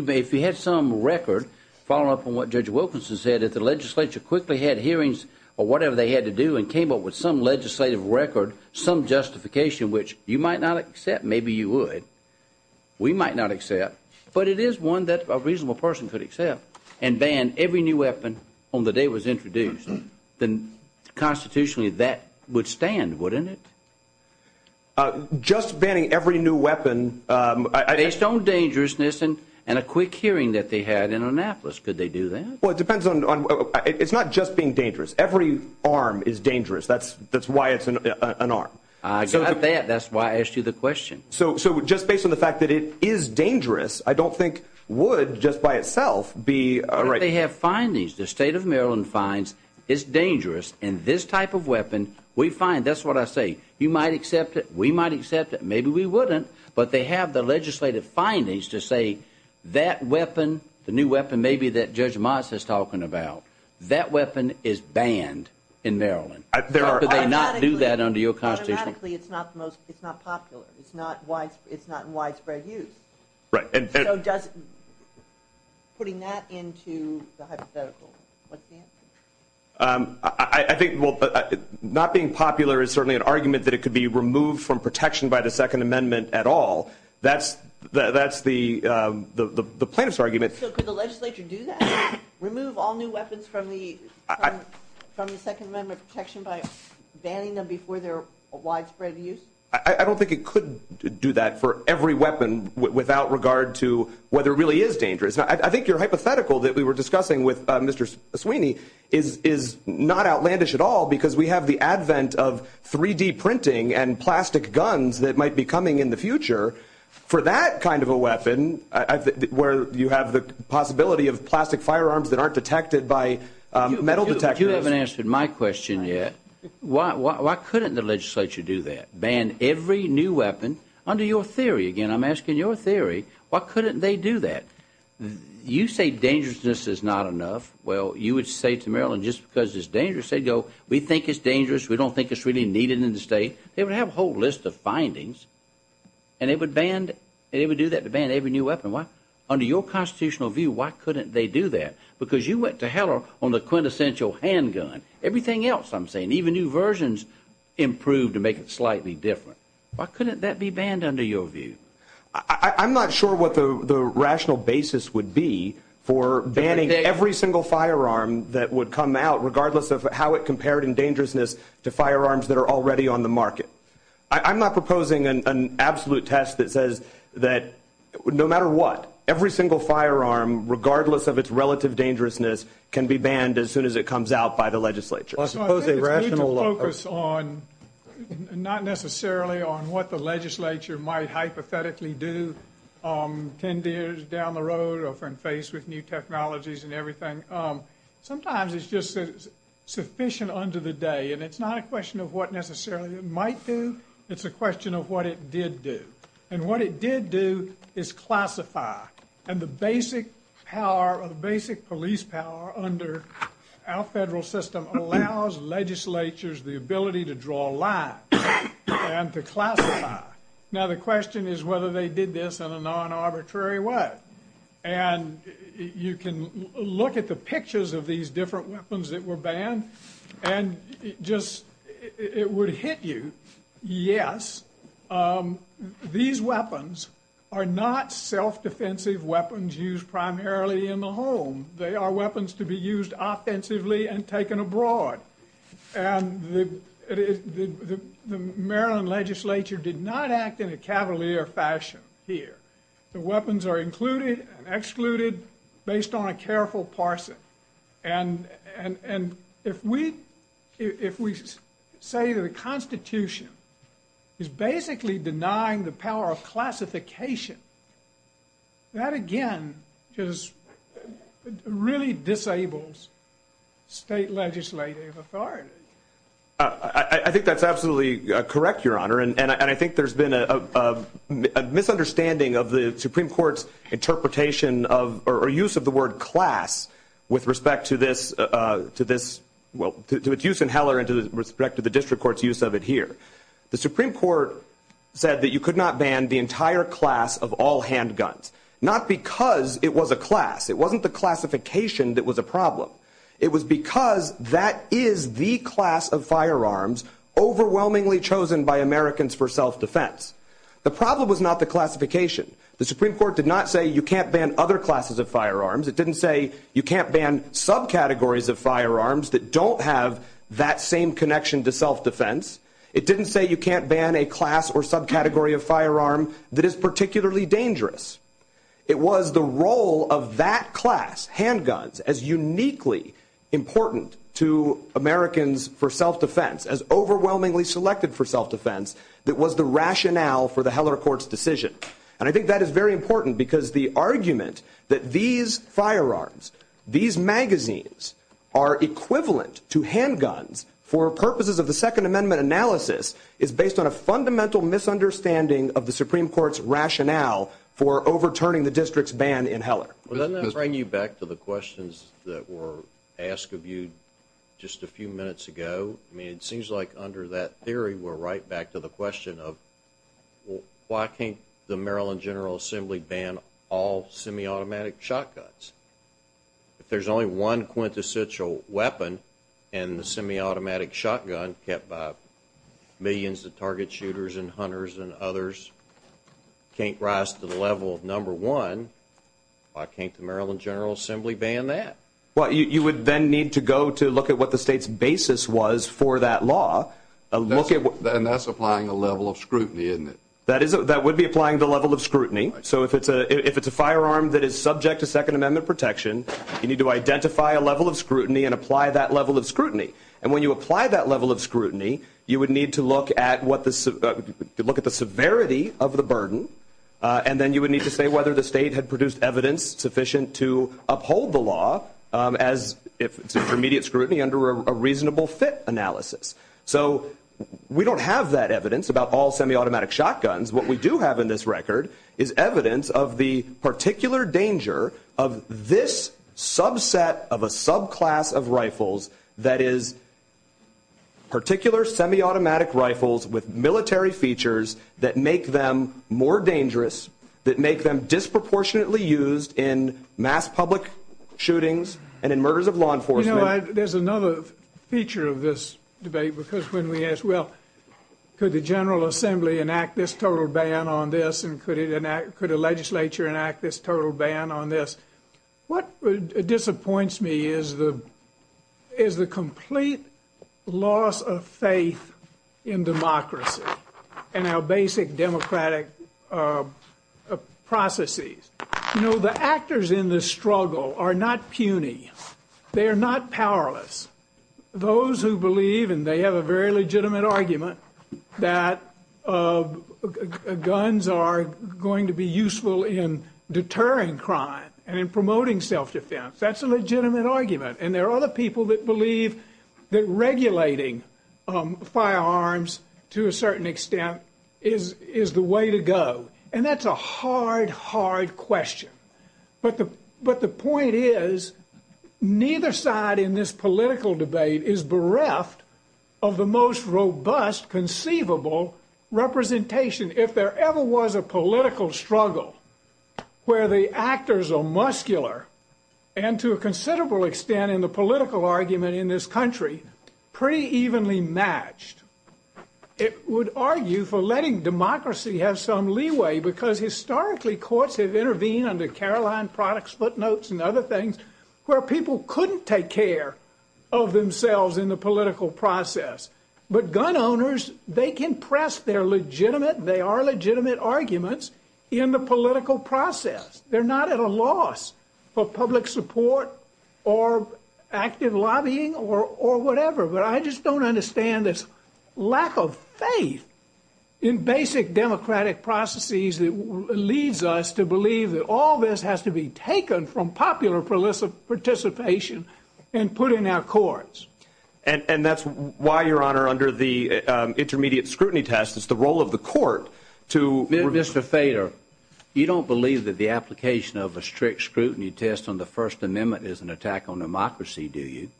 ban? If you had some record, following up on what Judge Wilkinson said, if the legislature quickly had hearings or whatever they had to do and came up with some legislative record, some justification which you might not accept, maybe you would. We might not accept. But it is one that a reasonable person could accept and ban every new weapon on the day it was introduced, then constitutionally that would stand, wouldn't it? Just banning every new weapon. Based on dangerousness and a quick hearing that they had in Annapolis, could they do that? Well, it depends on... It's not just being dangerous. Every arm is dangerous. That's why it's an arm. I got that. That's why I asked you the question. So just based on the fact that it is dangerous, I don't think would just by itself be a right... But they have findings. The state of Maryland finds it's dangerous, and this type of weapon, we find, that's what I say, you might accept it, we might accept it, maybe we wouldn't, but they have the legislative findings to say that weapon, the new weapon maybe that Judge Moss is talking about, that weapon is banned in Maryland. Could they not do that under your constitution? It's not popular. It's not in widespread use. Right. So putting that into the hypothetical, what's the answer? I think not being popular is certainly an argument that it could be removed from protection by the Second Amendment at all. That's the plaintiff's argument. So could the legislature do that, remove all new weapons from the Second Amendment protection by banning them before their widespread use? I don't think it could do that for every weapon without regard to whether it really is dangerous. I think your hypothetical that we were discussing with Mr. Sweeney is not outlandish at all because we have the advent of 3-D printing and plastic guns that might be coming in the future for that kind of a weapon where you have the possibility of plastic firearms that aren't detected by metal detectors. You haven't answered my question yet. Why couldn't the legislature do that, ban every new weapon? Under your theory, again, I'm asking your theory, why couldn't they do that? You say dangerousness is not enough. Well, you would say to Maryland, just because it's dangerous, they'd go, we think it's dangerous. We don't think it's really needed in the state. They would have a whole list of findings, and they would do that to ban every new weapon. Under your constitutional view, why couldn't they do that? Because you went to hell on the quintessential handgun. Everything else I'm saying, even new versions, improved to make it slightly different. Why couldn't that be banned under your view? I'm not sure what the rational basis would be for banning every single firearm that would come out regardless of how it compared in dangerousness to firearms that are already on the market. I'm not proposing an absolute test that says that no matter what, every single firearm, regardless of its relative dangerousness, can be banned as soon as it comes out by the legislature. I think the focus is not necessarily on what the legislature might hypothetically do 10 years down the road or when faced with new technologies and everything. Sometimes it's just sufficient under the day, and it's not a question of what necessarily it might do. It's a question of what it did do. And what it did do is classify. And the basic police power under our federal system allows legislatures the ability to draw lines and to classify. Now the question is whether they did this in a non-arbitrary way. And you can look at the pictures of these different weapons that were banned, and it would hit you. Yes, these weapons are not self-defensive weapons used primarily in the home. They are weapons to be used offensively and taken abroad. And the Maryland legislature did not act in a cavalier fashion here. The weapons are included and excluded based on a careful parsing. And if we say the Constitution is basically denying the power of classification, that again just really disables state legislative authority. I think that's absolutely correct, Your Honor, and I think there's been a misunderstanding of the Supreme Court's interpretation or use of the word class with respect to its use in Heller and with respect to the district court's use of it here. The Supreme Court said that you could not ban the entire class of all handguns, not because it was a class. It wasn't the classification that was a problem. It was because that is the class of firearms overwhelmingly chosen by Americans for self-defense. The problem was not the classification. The Supreme Court did not say you can't ban other classes of firearms. It didn't say you can't ban subcategories of firearms that don't have that same connection to self-defense. It didn't say you can't ban a class or subcategory of firearm that is particularly dangerous. It was the role of that class, handguns, as uniquely important to Americans for self-defense, as overwhelmingly selected for self-defense, that was the rationale for the Heller court's decision. I think that is very important because the argument that these firearms, these magazines, are equivalent to handguns for purposes of the Second Amendment analysis is based on a fundamental misunderstanding of the Supreme Court's rationale for overturning the district's ban in Heller. Let me bring you back to the questions that were asked of you just a few minutes ago. It seems like under that theory we're right back to the question of why can't the Maryland General Assembly ban all semiautomatic shotguns? If there's only one quintessential weapon in the semiautomatic shotgun kept by millions of target shooters and hunters and others, can't rise to the level of number one, why can't the Maryland General Assembly ban that? You would then need to go to look at what the state's basis was for that law. That's applying a level of scrutiny, isn't it? That would be applying the level of scrutiny. If it's a firearm that is subject to Second Amendment protection, you need to identify a level of scrutiny and apply that level of scrutiny. When you apply that level of scrutiny, you would need to look at the severity of the burden, and then you would need to say whether the state had produced evidence sufficient to uphold the law as if it's intermediate scrutiny under a reasonable fit analysis. So we don't have that evidence about all semiautomatic shotguns. What we do have in this record is evidence of the particular danger of this subset of a subclass of rifles that is particular semiautomatic rifles with military features that make them more dangerous, that make them disproportionately used in mass public shootings and in murders of law enforcement. You know, there's another feature of this debate because when we ask, well, could the General Assembly enact this total ban on this and could a legislature enact this total ban on this, what disappoints me is the complete loss of faith in democracy and our basic democratic processes. You know, the actors in this struggle are not puny. They are not powerless. Those who believe, and they have a very legitimate argument, that guns are going to be useful in deterring crime and promoting self-defense, that's a legitimate argument. And there are other people that believe that regulating firearms to a certain extent is the way to go. And that's a hard, hard question. But the point is neither side in this political debate is bereft of the most robust conceivable representation. If there ever was a political struggle where the actors are muscular and to a considerable extent in the political argument in this country, pretty evenly matched, it would argue for letting democracy have some leeway because historically courts have intervened under Caroline products, footnotes, and other things where people couldn't take care of themselves in the political process. But gun owners, they can press their legitimate, they are legitimate arguments in the political process. They're not at a loss for public support or active lobbying or whatever. But I just don't understand this lack of faith in basic democratic processes that leads us to believe that all this has to be taken from popular participation and put in our courts. And that's why, Your Honor, under the intermediate scrutiny test, it's the role of the court to reduce the failure. You don't believe that the application of a strict scrutiny test on the First Amendment is an attack on democracy, do you?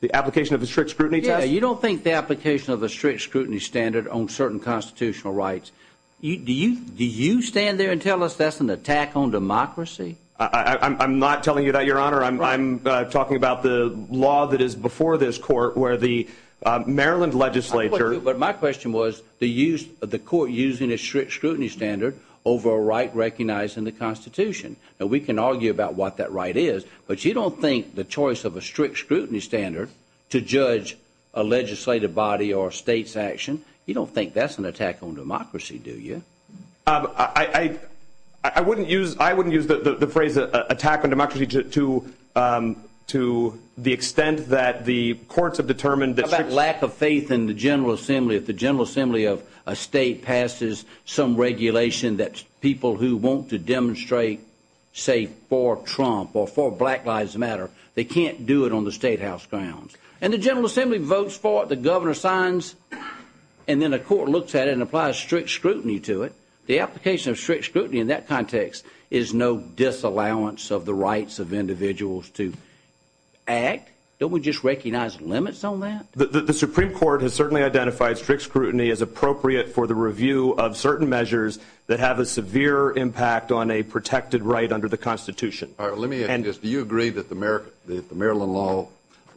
The application of a strict scrutiny test? Yeah, you don't think the application of a strict scrutiny standard on certain constitutional rights. Do you stand there and tell us that's an attack on democracy? I'm not telling you that, Your Honor. I'm talking about the law that is before this court where the Maryland legislature But my question was the use of the court using a strict scrutiny standard over a right recognized in the Constitution. Now, we can argue about what that right is, but you don't think the choice of a strict scrutiny standard to judge a legislative body or a state's action, you don't think that's an attack on democracy, do you? I wouldn't use the phrase attack on democracy to the extent that the courts How about lack of faith in the General Assembly? If the General Assembly of a state passes some regulation that people who want to demonstrate, say, for Trump or for Black Lives Matter, they can't do it on the statehouse grounds. And the General Assembly votes for it, the governor signs, and then a court looks at it and applies strict scrutiny to it. The application of strict scrutiny in that context is no disallowance of the rights of individuals to act. Don't we just recognize limits on that? The Supreme Court has certainly identified strict scrutiny as appropriate for the review of certain measures that have a severe impact on a protected right under the Constitution. Do you agree that the Maryland law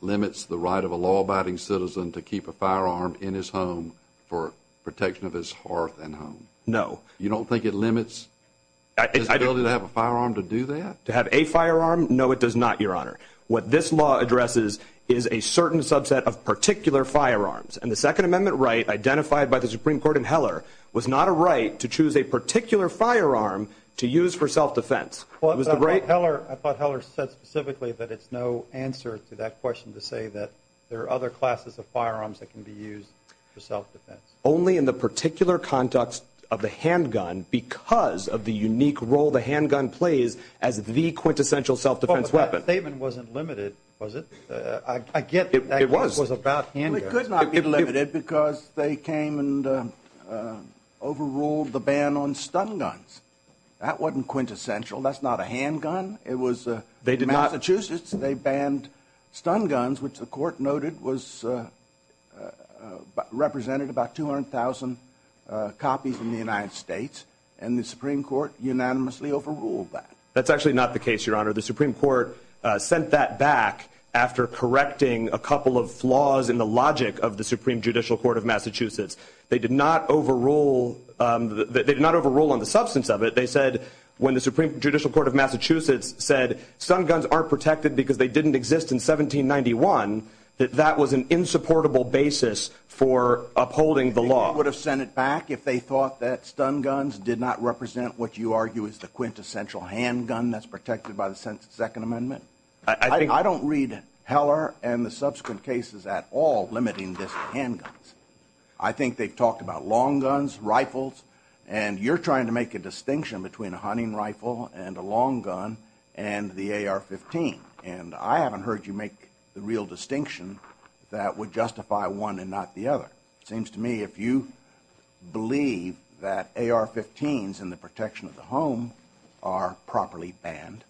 limits the right of a law-abiding citizen to keep a firearm in his home for protection of his hearth and home? No. You don't think it limits the ability to have a firearm to do that? To have a firearm? No, it does not, Your Honor. What this law addresses is a certain subset of particular firearms, and the Second Amendment right identified by the Supreme Court in Heller was not a right to choose a particular firearm to use for self-defense. I thought Heller said specifically that it's no answer to that question to say that there are other classes of firearms that can be used for self-defense. Only in the particular context of the handgun because of the unique role the handgun plays as the quintessential self-defense weapon. That statement wasn't limited, was it? I get that it was about handguns. It could not be limited because they came and overruled the ban on stun guns. That wasn't quintessential. That's not a handgun. In Massachusetts, they banned stun guns, which the court noted represented about 200,000 copies in the United States, and the Supreme Court unanimously overruled that. That's actually not the case, Your Honor. The Supreme Court sent that back after correcting a couple of flaws in the logic of the Supreme Judicial Court of Massachusetts. They did not overrule on the substance of it. They said when the Supreme Judicial Court of Massachusetts said stun guns aren't protected because they didn't exist in 1791, that that was an insupportable basis for upholding the law. They would have sent it back if they thought that stun guns did not represent what you argue is the quintessential handgun that's protected by the Second Amendment. I don't read Heller and the subsequent cases at all limiting this to handguns. I think they talk about long guns, rifles, and you're trying to make a distinction between a hunting rifle and a long gun and the AR-15. I haven't heard you make the real distinction that would justify one and not the other. It seems to me if you believe that AR-15s and the protection of the home are properly banned,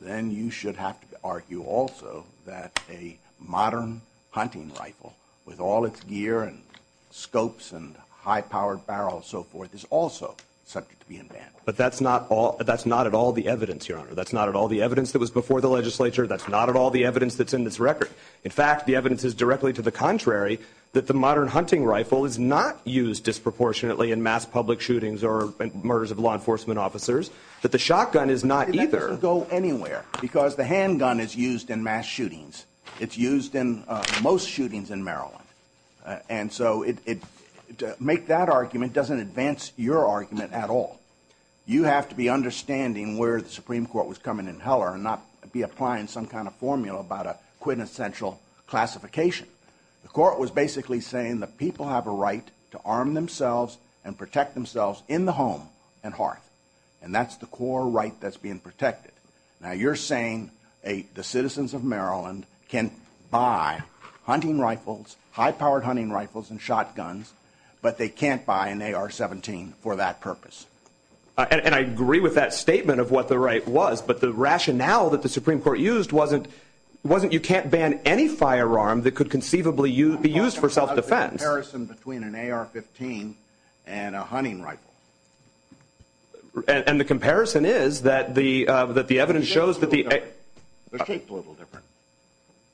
then you should have to argue also that a modern hunting rifle with all its gear and scopes and high-powered barrels and so forth is also subject to being banned. But that's not at all the evidence, Your Honor. That's not at all the evidence that was before the legislature. That's not at all the evidence that's in this record. In fact, the evidence is directly to the contrary, that the modern hunting rifle is not used disproportionately in mass public shootings or murders of law enforcement officers, that the shotgun is not either. It doesn't go anywhere because the handgun is used in mass shootings. It's used in most shootings in Maryland. And so to make that argument doesn't advance your argument at all. You have to be understanding where the Supreme Court was coming in Heller and not be applying some kind of formula about a quintessential classification. The court was basically saying that people have a right to arm themselves and protect themselves in the home and heart, and that's the core right that's being protected. Now you're saying the citizens of Maryland can buy hunting rifles, high-powered hunting rifles and shotguns, but they can't buy an AR-17 for that purpose. And I agree with that statement of what the right was, but the rationale that the Supreme Court used wasn't you can't ban any firearm that could conceivably be used for self-defense. It was a comparison between an AR-15 and a hunting rifle. And the comparison is that the evidence shows that the— The case is a little different.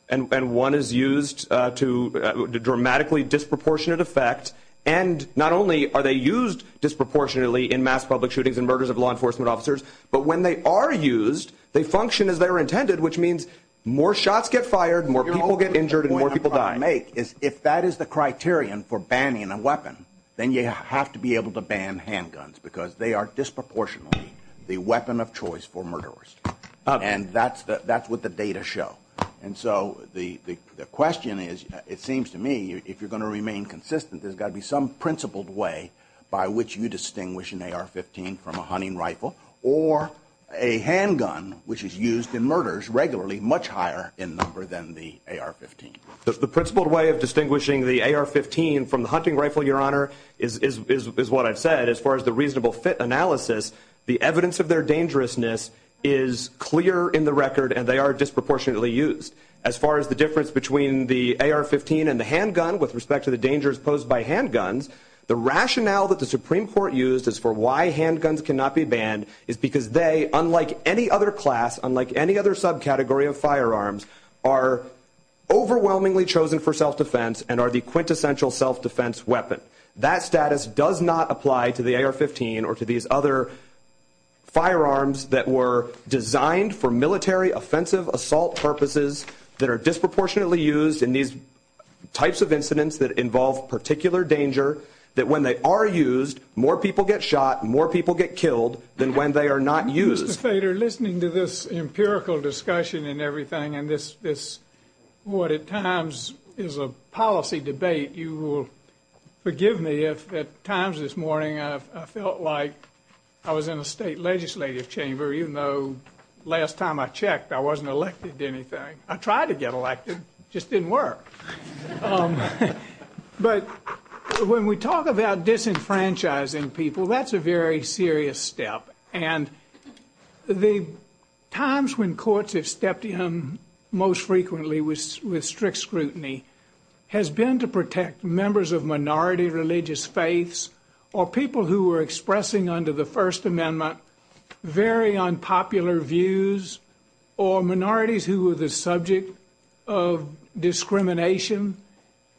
And one is used to dramatically disproportionate effect, and not only are they used disproportionately in mass public shootings and murders of law enforcement officers, but when they are used, they function as they were intended, which means more shots get fired, more people get injured, and more people die. So the point I make is if that is the criterion for banning a weapon, then you have to be able to ban handguns because they are disproportionately the weapon of choice for murderers, and that's what the data show. And so the question is, it seems to me, if you're going to remain consistent, there's got to be some principled way by which you distinguish an AR-15 from a hunting rifle or a handgun, which is used in murders regularly, much higher in number than the AR-15. The principled way of distinguishing the AR-15 from the hunting rifle, Your Honor, is what I've said. As far as the reasonable fit analysis, the evidence of their dangerousness is clear in the record, and they are disproportionately used. As far as the difference between the AR-15 and the handgun with respect to the dangers posed by handguns, the rationale that the Supreme Court used as for why handguns cannot be banned is because they, unlike any other class, unlike any other subcategory of firearms, are overwhelmingly chosen for self-defense and are the quintessential self-defense weapon. That status does not apply to the AR-15 or to these other firearms that were designed for military offensive assault purposes that are disproportionately used in these types of incidents that involve particular danger, that when they are used, more people get shot, more people get killed than when they are not used. Mr. Stater, listening to this empirical discussion and everything, and this is what at times is a policy debate, you will forgive me if at times this morning I felt like I was in a state legislative chamber, even though last time I checked I wasn't elected to anything. I tried to get elected. It just didn't work. But when we talk about disenfranchising people, that's a very serious step. And the times when courts have stepped in most frequently with strict scrutiny has been to protect members of minority religious faiths or people who were expressing under the First Amendment very unpopular views or minorities who were the subject of discrimination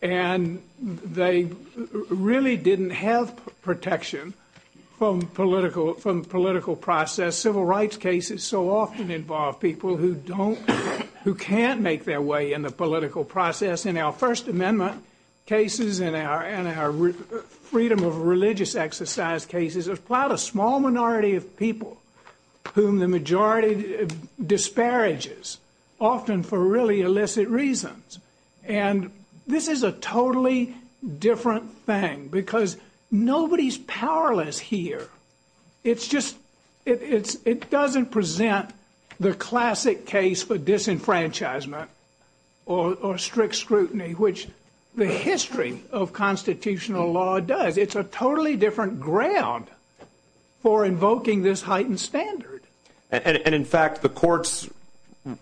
and they really didn't have protection from political process. Civil rights cases so often involve people who can't make their way in the political process. In our First Amendment cases and our freedom of religious exercise cases, there's quite a small minority of people whom the majority disparages, often for really illicit reasons. And this is a totally different thing because nobody's powerless here. It doesn't present the classic case for disenfranchisement or strict scrutiny, which the history of constitutional law does. It's a totally different ground for invoking this heightened standard. And, in fact, the court's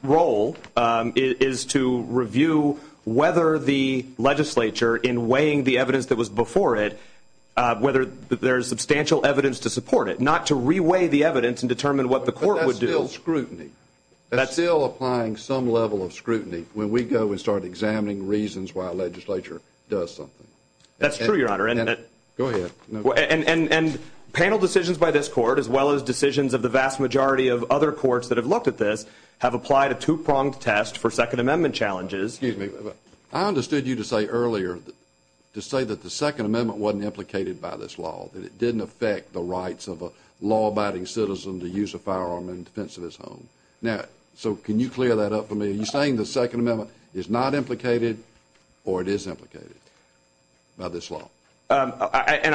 role is to review whether the legislature, in weighing the evidence that was before it, whether there's substantial evidence to support it, not to re-weigh the evidence and determine what the court would do. But that's still scrutiny. That's still applying some level of scrutiny. When we go, we start examining reasons why a legislature does something. That's true, Your Honor. Go ahead. And panel decisions by this court, as well as decisions of the vast majority of other courts that have looked at this, have applied a two-pronged test for Second Amendment challenges. Excuse me. I understood you to say earlier, to say that the Second Amendment wasn't implicated by this law, that it didn't affect the rights of a law-abiding citizen to use a firearm in defense of his home. Now, so can you clear that up for me? Are you saying the Second Amendment is not implicated or it is implicated by this law? And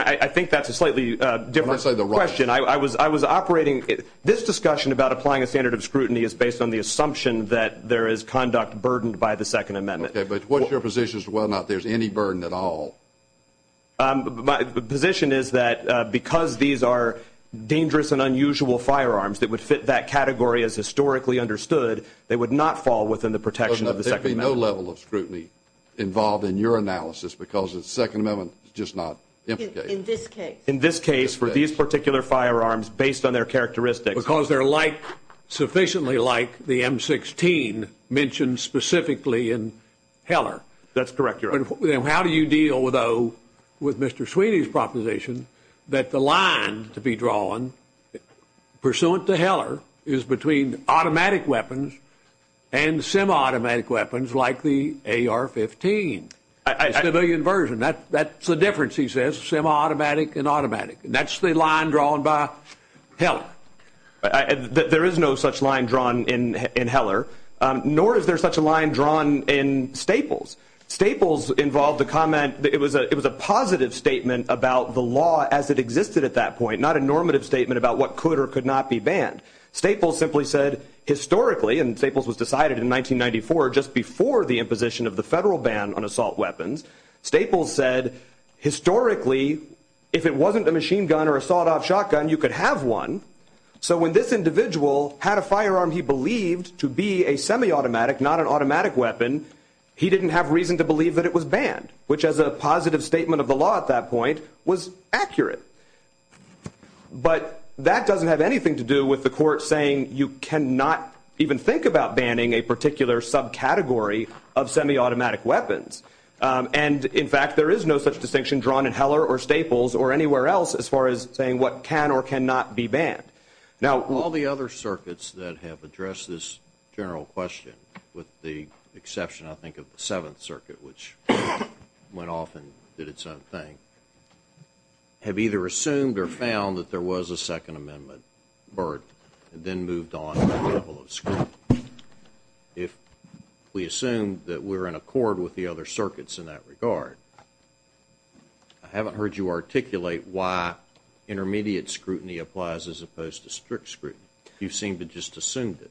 I think that's a slightly different question. I was operating – this discussion about applying a standard of scrutiny is based on the assumption that there is conduct burdened by the Second Amendment. Okay, but what's your position as to whether or not there's any burden at all? My position is that because these are dangerous and unusual firearms that would fit that category as historically understood, they would not fall within the protection of the Second Amendment. There would be no level of scrutiny involved in your analysis because the Second Amendment is just not implicated. In this case. In this case for these particular firearms based on their characteristics. Because they're like – sufficiently like the M16 mentioned specifically in Heller. That's correct, Your Honor. How do you deal, though, with Mr. Sweeney's proposition that the line to be drawn, pursuant to Heller, is between automatic weapons and semi-automatic weapons like the AR-15? A civilian version. That's the difference, he says, semi-automatic and automatic. That's the line drawn by Heller. There is no such line drawn in Heller, nor is there such a line drawn in Staples. Staples involved the comment – it was a positive statement about the law as it existed at that point, not a normative statement about what could or could not be banned. Staples simply said, historically, and Staples was decided in 1994, just before the imposition of the federal ban on assault weapons. Staples said, historically, if it wasn't a machine gun or a sawed-off shotgun, you could have one. So when this individual had a firearm he believed to be a semi-automatic, not an automatic weapon, he didn't have reason to believe that it was banned, which as a positive statement of the law at that point was accurate. But that doesn't have anything to do with the court saying you cannot even think about banning a particular subcategory of semi-automatic weapons. And, in fact, there is no such distinction drawn in Heller or Staples or anywhere else as far as saying what can or cannot be banned. Now, all the other circuits that have addressed this general question, with the exception, I think, of the Seventh Circuit, which went off and did its own thing, have either assumed or found that there was a Second Amendment burden and then moved on to the level of scrutiny. If we assume that we're in accord with the other circuits in that regard, I haven't heard you articulate why intermediate scrutiny applies as opposed to strict scrutiny. You seem to have just assumed it.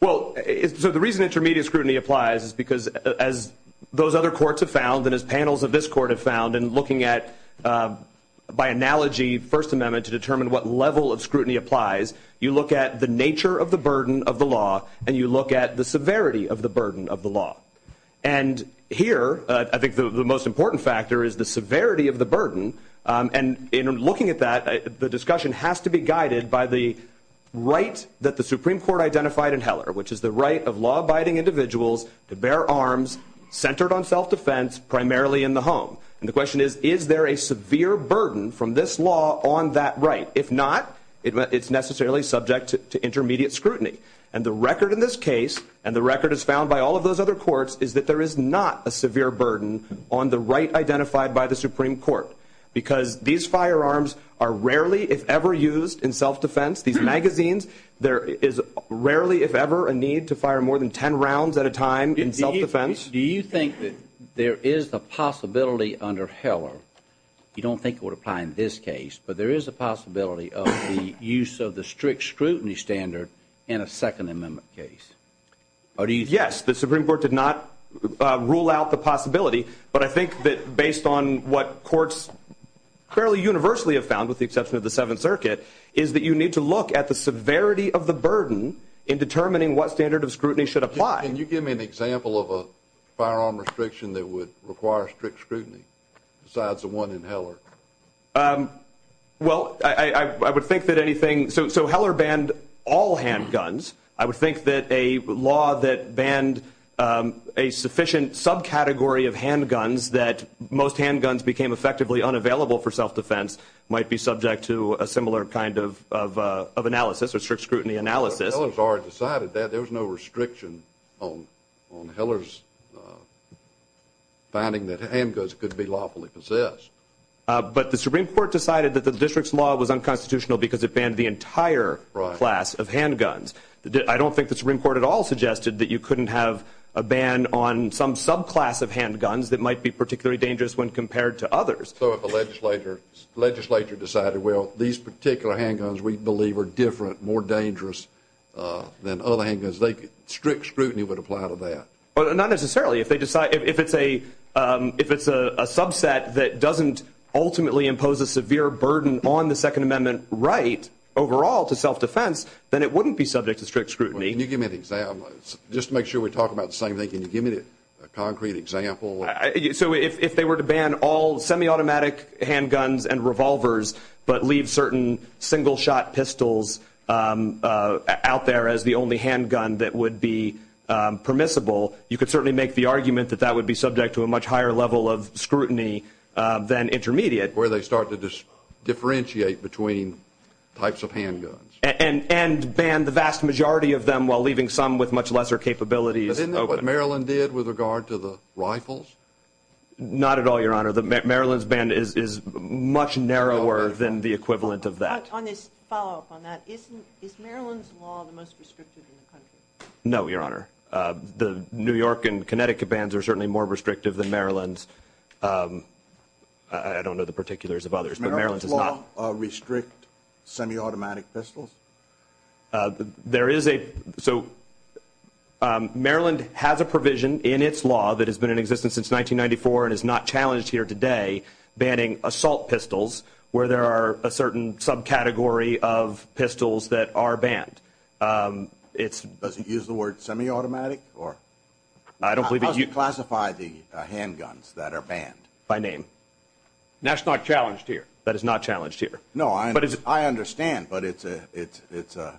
Well, the reason intermediate scrutiny applies is because, as those other courts have found and as panels of this court have found in looking at, by analogy, First Amendment to determine what level of scrutiny applies, you look at the nature of the burden of the law and you look at the severity of the burden of the law. And here, I think the most important factor is the severity of the burden. And in looking at that, the discussion has to be guided by the right that the Supreme Court identified in Heller, which is the right of law-abiding individuals to bear arms, centered on self-defense, primarily in the home. And the question is, is there a severe burden from this law on that right? If not, it's necessarily subject to intermediate scrutiny. And the record in this case and the record as found by all of those other courts is that there is not a severe burden on the right identified by the Supreme Court because these firearms are rarely, if ever, used in self-defense. These magazines, there is rarely, if ever, a need to fire more than ten rounds at a time in self-defense. Do you think that there is a possibility under Heller, you don't think it would apply in this case, but there is a possibility of the use of the strict scrutiny standard in a Second Amendment case? Yes, the Supreme Court did not rule out the possibility, but I think that based on what courts fairly universally have found with the acceptance of the Seventh Circuit is that you need to look at the severity of the burden in determining what standard of scrutiny should apply. Can you give me an example of a firearm restriction that would require strict scrutiny besides the one in Heller? Well, I would think that anything, so Heller banned all handguns. I would think that a law that banned a sufficient subcategory of handguns that most handguns became effectively unavailable for self-defense might be subject to a similar kind of analysis, a strict scrutiny analysis. Heller has already decided that. There is no restriction on Heller's finding that handguns could be lawfully possessed. But the Supreme Court decided that the district's law was unconstitutional because it banned the entire class of handguns. I don't think the Supreme Court at all suggested that you couldn't have a ban on some subclass of handguns that might be particularly dangerous when compared to others. So if a legislature decided, well, these particular handguns we believe are different, more dangerous than other handguns, strict scrutiny would apply to that? Not necessarily. If it's a subset that doesn't ultimately impose a severe burden on the Second Amendment right overall to self-defense, then it wouldn't be subject to strict scrutiny. Can you give me an example? Just to make sure we're talking about the same thing. Can you give me a concrete example? So if they were to ban all semi-automatic handguns and revolvers, but leave certain single-shot pistols out there as the only handgun that would be permissible, you could certainly make the argument that that would be subject to a much higher level of scrutiny than intermediate. Where they start to differentiate between types of handguns. And ban the vast majority of them while leaving some with much lesser capabilities. But isn't that what Maryland did with regard to the rifles? Not at all, Your Honor. Maryland's ban is much narrower than the equivalent of that. On a follow-up on that, is Maryland's law the most restrictive in the country? No, Your Honor. The New York and Connecticut bans are certainly more restrictive than Maryland's. I don't know the particulars of others, but Maryland's is not. Does Maryland's law restrict semi-automatic pistols? Maryland has a provision in its law that has been in existence since 1994 and is not challenged here today banning assault pistols, where there are a certain subcategory of pistols that are banned. Does it use the word semi-automatic? How do you classify the handguns that are banned? By name. That's not challenged here. That is not challenged here. No, I understand, but it's a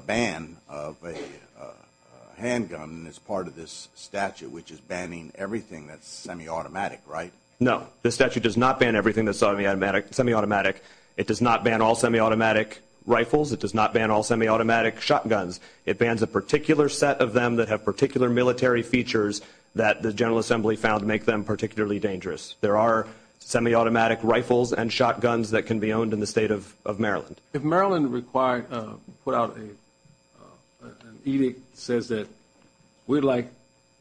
ban of a handgun as part of this statute, which is banning everything that's semi-automatic, right? No, the statute does not ban everything that's semi-automatic. It does not ban all semi-automatic rifles. It does not ban all semi-automatic shotguns. It bans a particular set of them that have particular military features that the General Assembly found to make them particularly dangerous. There are semi-automatic rifles and shotguns that can be owned in the state of Maryland. If Maryland required to put out an edict that says that we'd like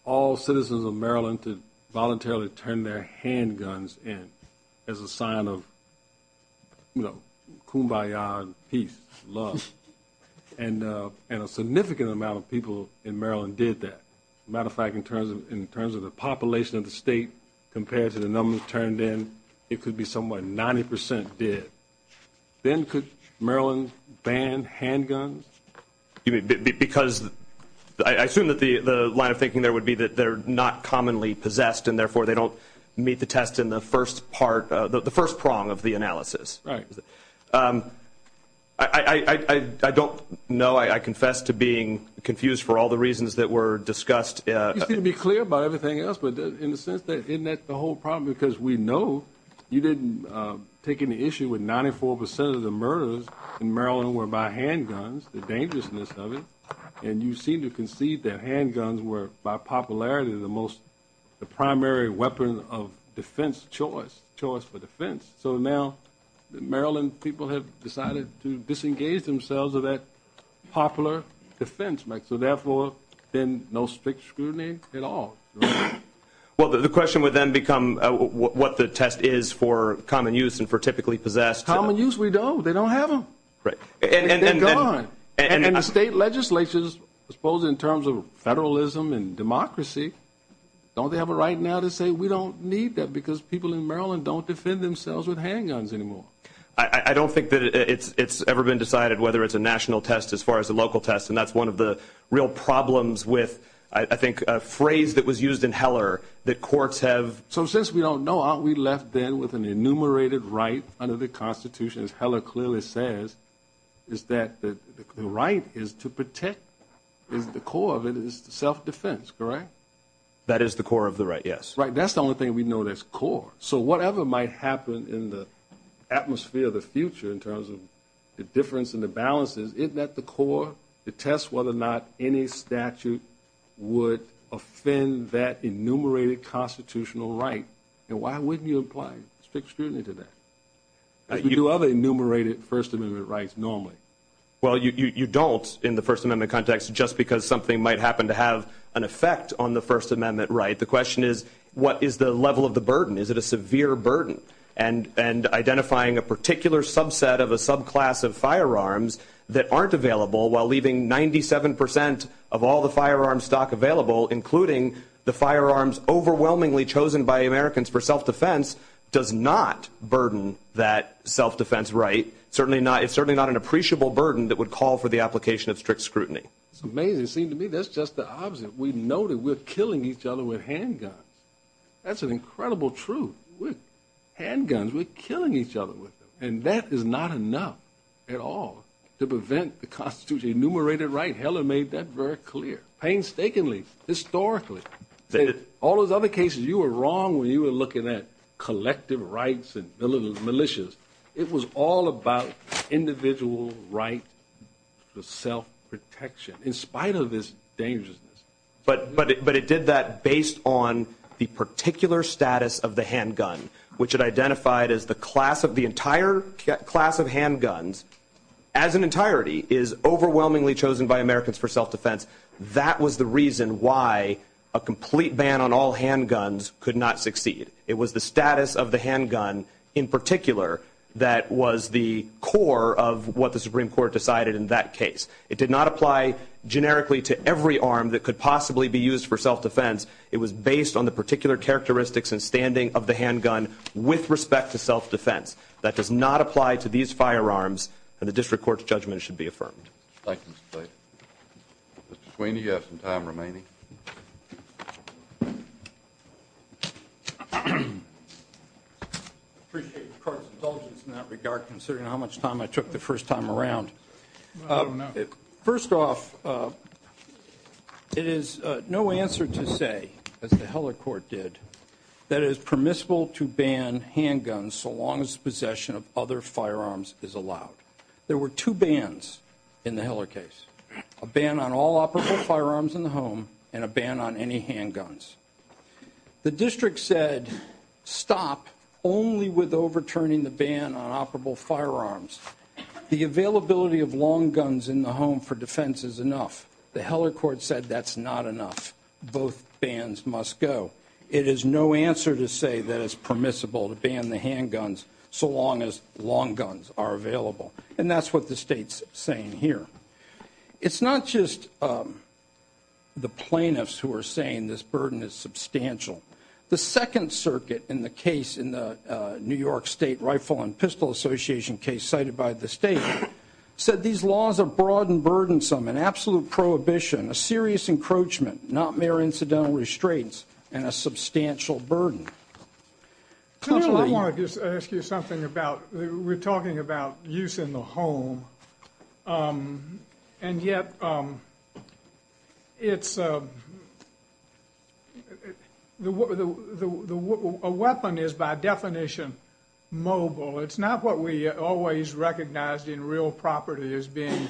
all citizens of Maryland to voluntarily turn their handguns in as a sign of, you know, kumbaya, peace, love, and a significant amount of people in Maryland did that. As a matter of fact, in terms of the population of the state, compared to the number that turned in, it could be somewhere like 90% did. Then could Maryland ban handguns? Because I assume that the line of thinking there would be that they're not commonly possessed and, therefore, they don't meet the test in the first part, the first prong of the analysis. Right. I don't know. I confess to being confused for all the reasons that were discussed. You seem to be clear about everything else. But in a sense, isn't that the whole problem? Because we know you didn't take any issue with 94% of the murders in Maryland were by handguns, the dangerousness of it. And you seem to concede that handguns were, by popularity, the primary weapon of defense choice, choice for defense. So now in Maryland, people have decided to disengage themselves of that popular defense. So, therefore, then no strict scrutiny at all. Well, the question would then become what the test is for common use and for typically possessed. Common use, we don't. They don't have them. They're gone. And the state legislatures, I suppose in terms of federalism and democracy, don't they have a right now to say we don't need that because people in Maryland don't use handguns anymore? I don't think that it's ever been decided whether it's a national test as far as a local test. And that's one of the real problems with, I think, a phrase that was used in Heller that courts have. So since we don't know, aren't we left then with an enumerated right under the Constitution, as Heller clearly says, is that the right is to protect. The core of it is self-defense, correct? That is the core of the right, yes. Right, that's the only thing we know that's core. So whatever might happen in the atmosphere of the future in terms of the difference in the balances, isn't that the core to test whether or not any statute would offend that enumerated constitutional right? And why wouldn't you apply strict scrutiny to that? You have enumerated First Amendment rights normally. Well, you don't in the First Amendment context just because something might happen to have an effect on the First Amendment right. The question is, what is the level of the burden? Is it a severe burden? And identifying a particular subset of a subclass of firearms that aren't available while leaving 97% of all the firearm stock available, including the firearms overwhelmingly chosen by Americans for self-defense, does not burden that self-defense right. It's certainly not an appreciable burden that would call for the application of strict scrutiny. It's amazing to me. That's just the opposite. We know that we're killing each other with handguns. That's an incredible truth. With handguns, we're killing each other with them. And that is not enough at all to prevent the Constitution's enumerated right. Heller made that very clear, painstakingly, historically. All those other cases you were wrong when you were looking at collective rights and militias. It was all about individual right to self-protection in spite of its dangerousness. But it did that based on the particular status of the handgun, which it identified as the class of the entire class of handguns, as an entirety, is overwhelmingly chosen by Americans for self-defense. That was the reason why a complete ban on all handguns could not succeed. It was the status of the handgun in particular that was the core of what the Supreme Court decided in that case. It did not apply generically to every arm that could possibly be used for self-defense. It was based on the particular characteristics and standing of the handgun with respect to self-defense. That does not apply to these firearms, and the district court's judgment should be affirmed. Thank you, Mr. Tate. Mr. Tweeney, you have some time remaining. I appreciate the court's indulgence in that regard, considering how much time I took the first time around. First off, it is no answer to say, as the Heller court did, that it is permissible to ban handguns so long as possession of other firearms is allowed. There were two bans in the Heller case, a ban on all operable firearms in the home and a ban on any handguns. The district said stop only with overturning the ban on operable firearms. The availability of long guns in the home for defense is enough. The Heller court said that's not enough. Both bans must go. It is no answer to say that it's permissible to ban the handguns so long as long guns are available, and that's what the state's saying here. It's not just the plaintiffs who are saying this burden is substantial. The Second Circuit in the case in the New York State Rifle and Pistol Association case cited by the state said these laws are broad and burdensome, an absolute prohibition, a serious encroachment, not mere incidental restraints, and a substantial burden. I want to just ask you something about we're talking about use in the home, and yet a weapon is by definition mobile. It's not what we always recognized in real property as being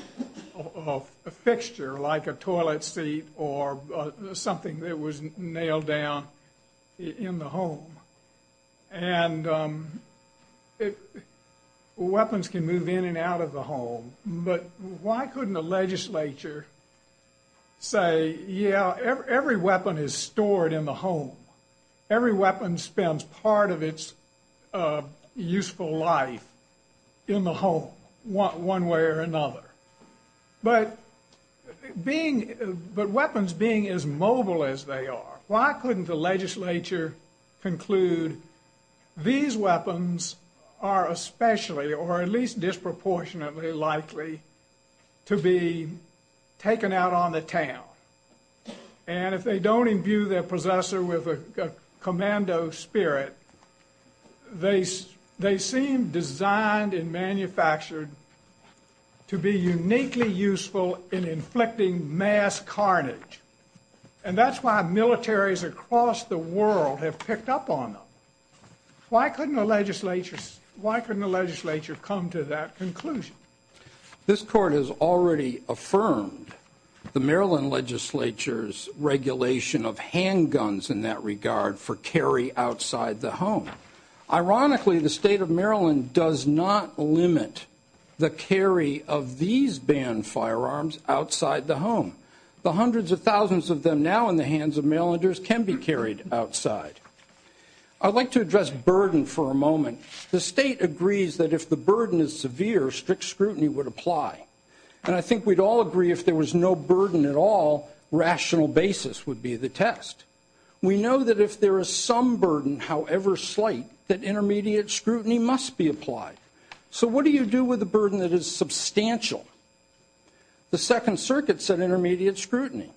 a fixture like a toilet seat or something that was nailed down in the home. And weapons can move in and out of the home, but why couldn't the legislature say, yeah, every weapon is stored in the home. Every weapon spends part of its useful life in the home one way or another. But weapons being as mobile as they are, why couldn't the legislature conclude these weapons are especially or at least disproportionately likely to be taken out on the town. And if they don't imbue their possessor with a commando spirit, they seem designed and manufactured to be uniquely useful in inflicting mass carnage. And that's why militaries across the world have picked up on them. Why couldn't the legislature come to that conclusion? This court has already affirmed the Maryland legislature's regulation of handguns in that regard for carry outside the home. Ironically, the state of Maryland does not limit the carry of these banned firearms outside the home. The hundreds of thousands of them now in the hands of mail can be carried outside. I'd like to address burden for a moment. The state agrees that if the burden is severe, strict scrutiny would apply. And I think we'd all agree if there was no burden at all, rational basis would be the test. We know that if there is some burden, however slight, that intermediate scrutiny must be applied. So what do you do with a burden that is substantial? The Second Circuit said intermediate scrutiny.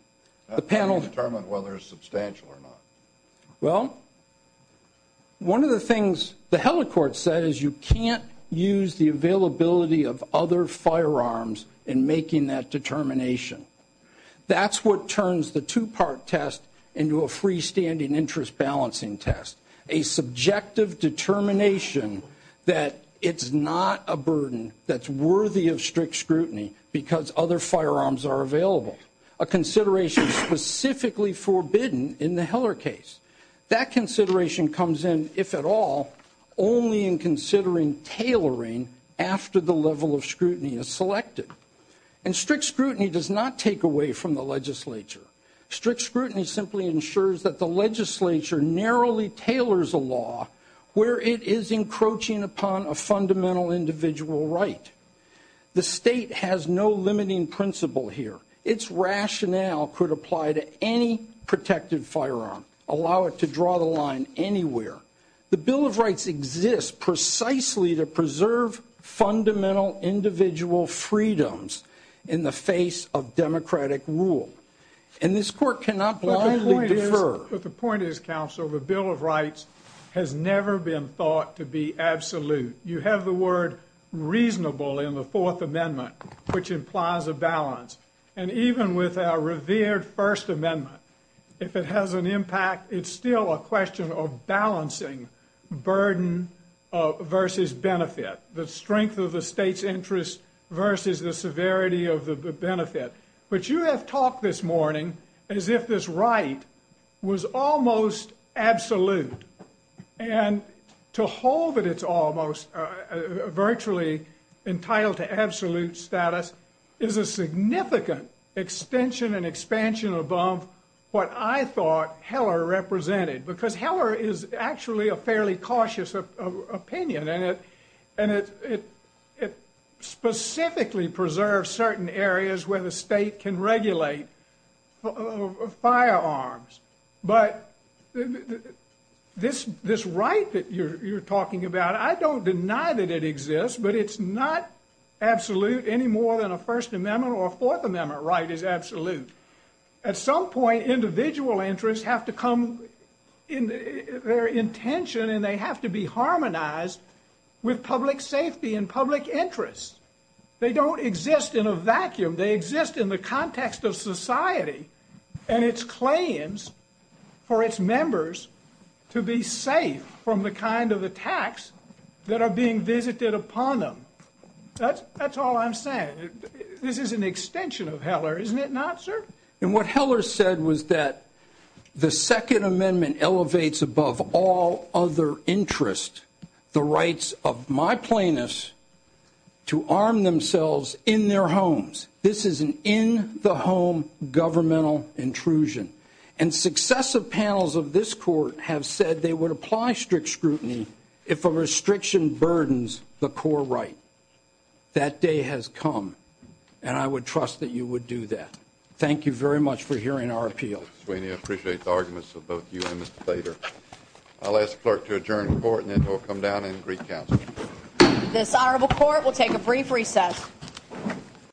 The panel determined whether it's substantial or not. Well, one of the things the Hella Court said is you can't use the availability of other firearms in making that determination. That's what turns the two-part test into a freestanding interest balancing test, a subjective determination that it's not a burden that's worthy of strict scrutiny because other firearms are available, a consideration specifically forbidden in the Heller case. That consideration comes in, if at all, only in considering tailoring after the level of scrutiny is selected. And strict scrutiny does not take away from the legislature. Strict scrutiny simply ensures that the legislature narrowly tailors a law where it is encroaching upon a fundamental individual right. The state has no limiting principle here. Its rationale could apply to any protected firearm, allow it to draw the line anywhere. The Bill of Rights exists precisely to preserve fundamental individual freedoms in the face of democratic rule. And this court cannot possibly defer. But the point is, Counselor, the Bill of Rights has never been thought to be absolute. You have the word reasonable in the Fourth Amendment, which implies a balance. And even with our revered First Amendment, if it has an impact, it's still a question of balancing burden versus benefit, the strength of the state's interest versus the severity of the benefit. But you have talked this morning as if this right was almost absolute. And to hold that it's almost virtually entitled to absolute status is a significant extension and expansion above what I thought Heller represented. Because Heller is actually a fairly cautious opinion. And it specifically preserves certain areas where the state can regulate firearms. But this right that you're talking about, I don't deny that it exists, but it's not absolute any more than a First Amendment or a Fourth Amendment right is absolute. At some point, individual interests have to come in their intention and they have to be harmonized with public safety and public interests. They don't exist in a vacuum. They exist in the context of society and its claims for its members to be safe from the kind of attacks that are being visited upon them. That's all I'm saying. This is an extension of Heller, isn't it not, sir? And what Heller said was that the Second Amendment elevates above all other interests the rights of my plaintiffs to arm themselves in their homes. This is an in-the-home governmental intrusion. And successive panels of this court have said they would apply strict scrutiny if a restriction burdens the core right. That day has come. And I would trust that you would do that. Thank you very much for hearing our appeal. I appreciate the arguments of both you and Mr. Slater. I'll ask the clerk to adjourn the court and then we'll come down and recount. This honorable court will take a brief recess.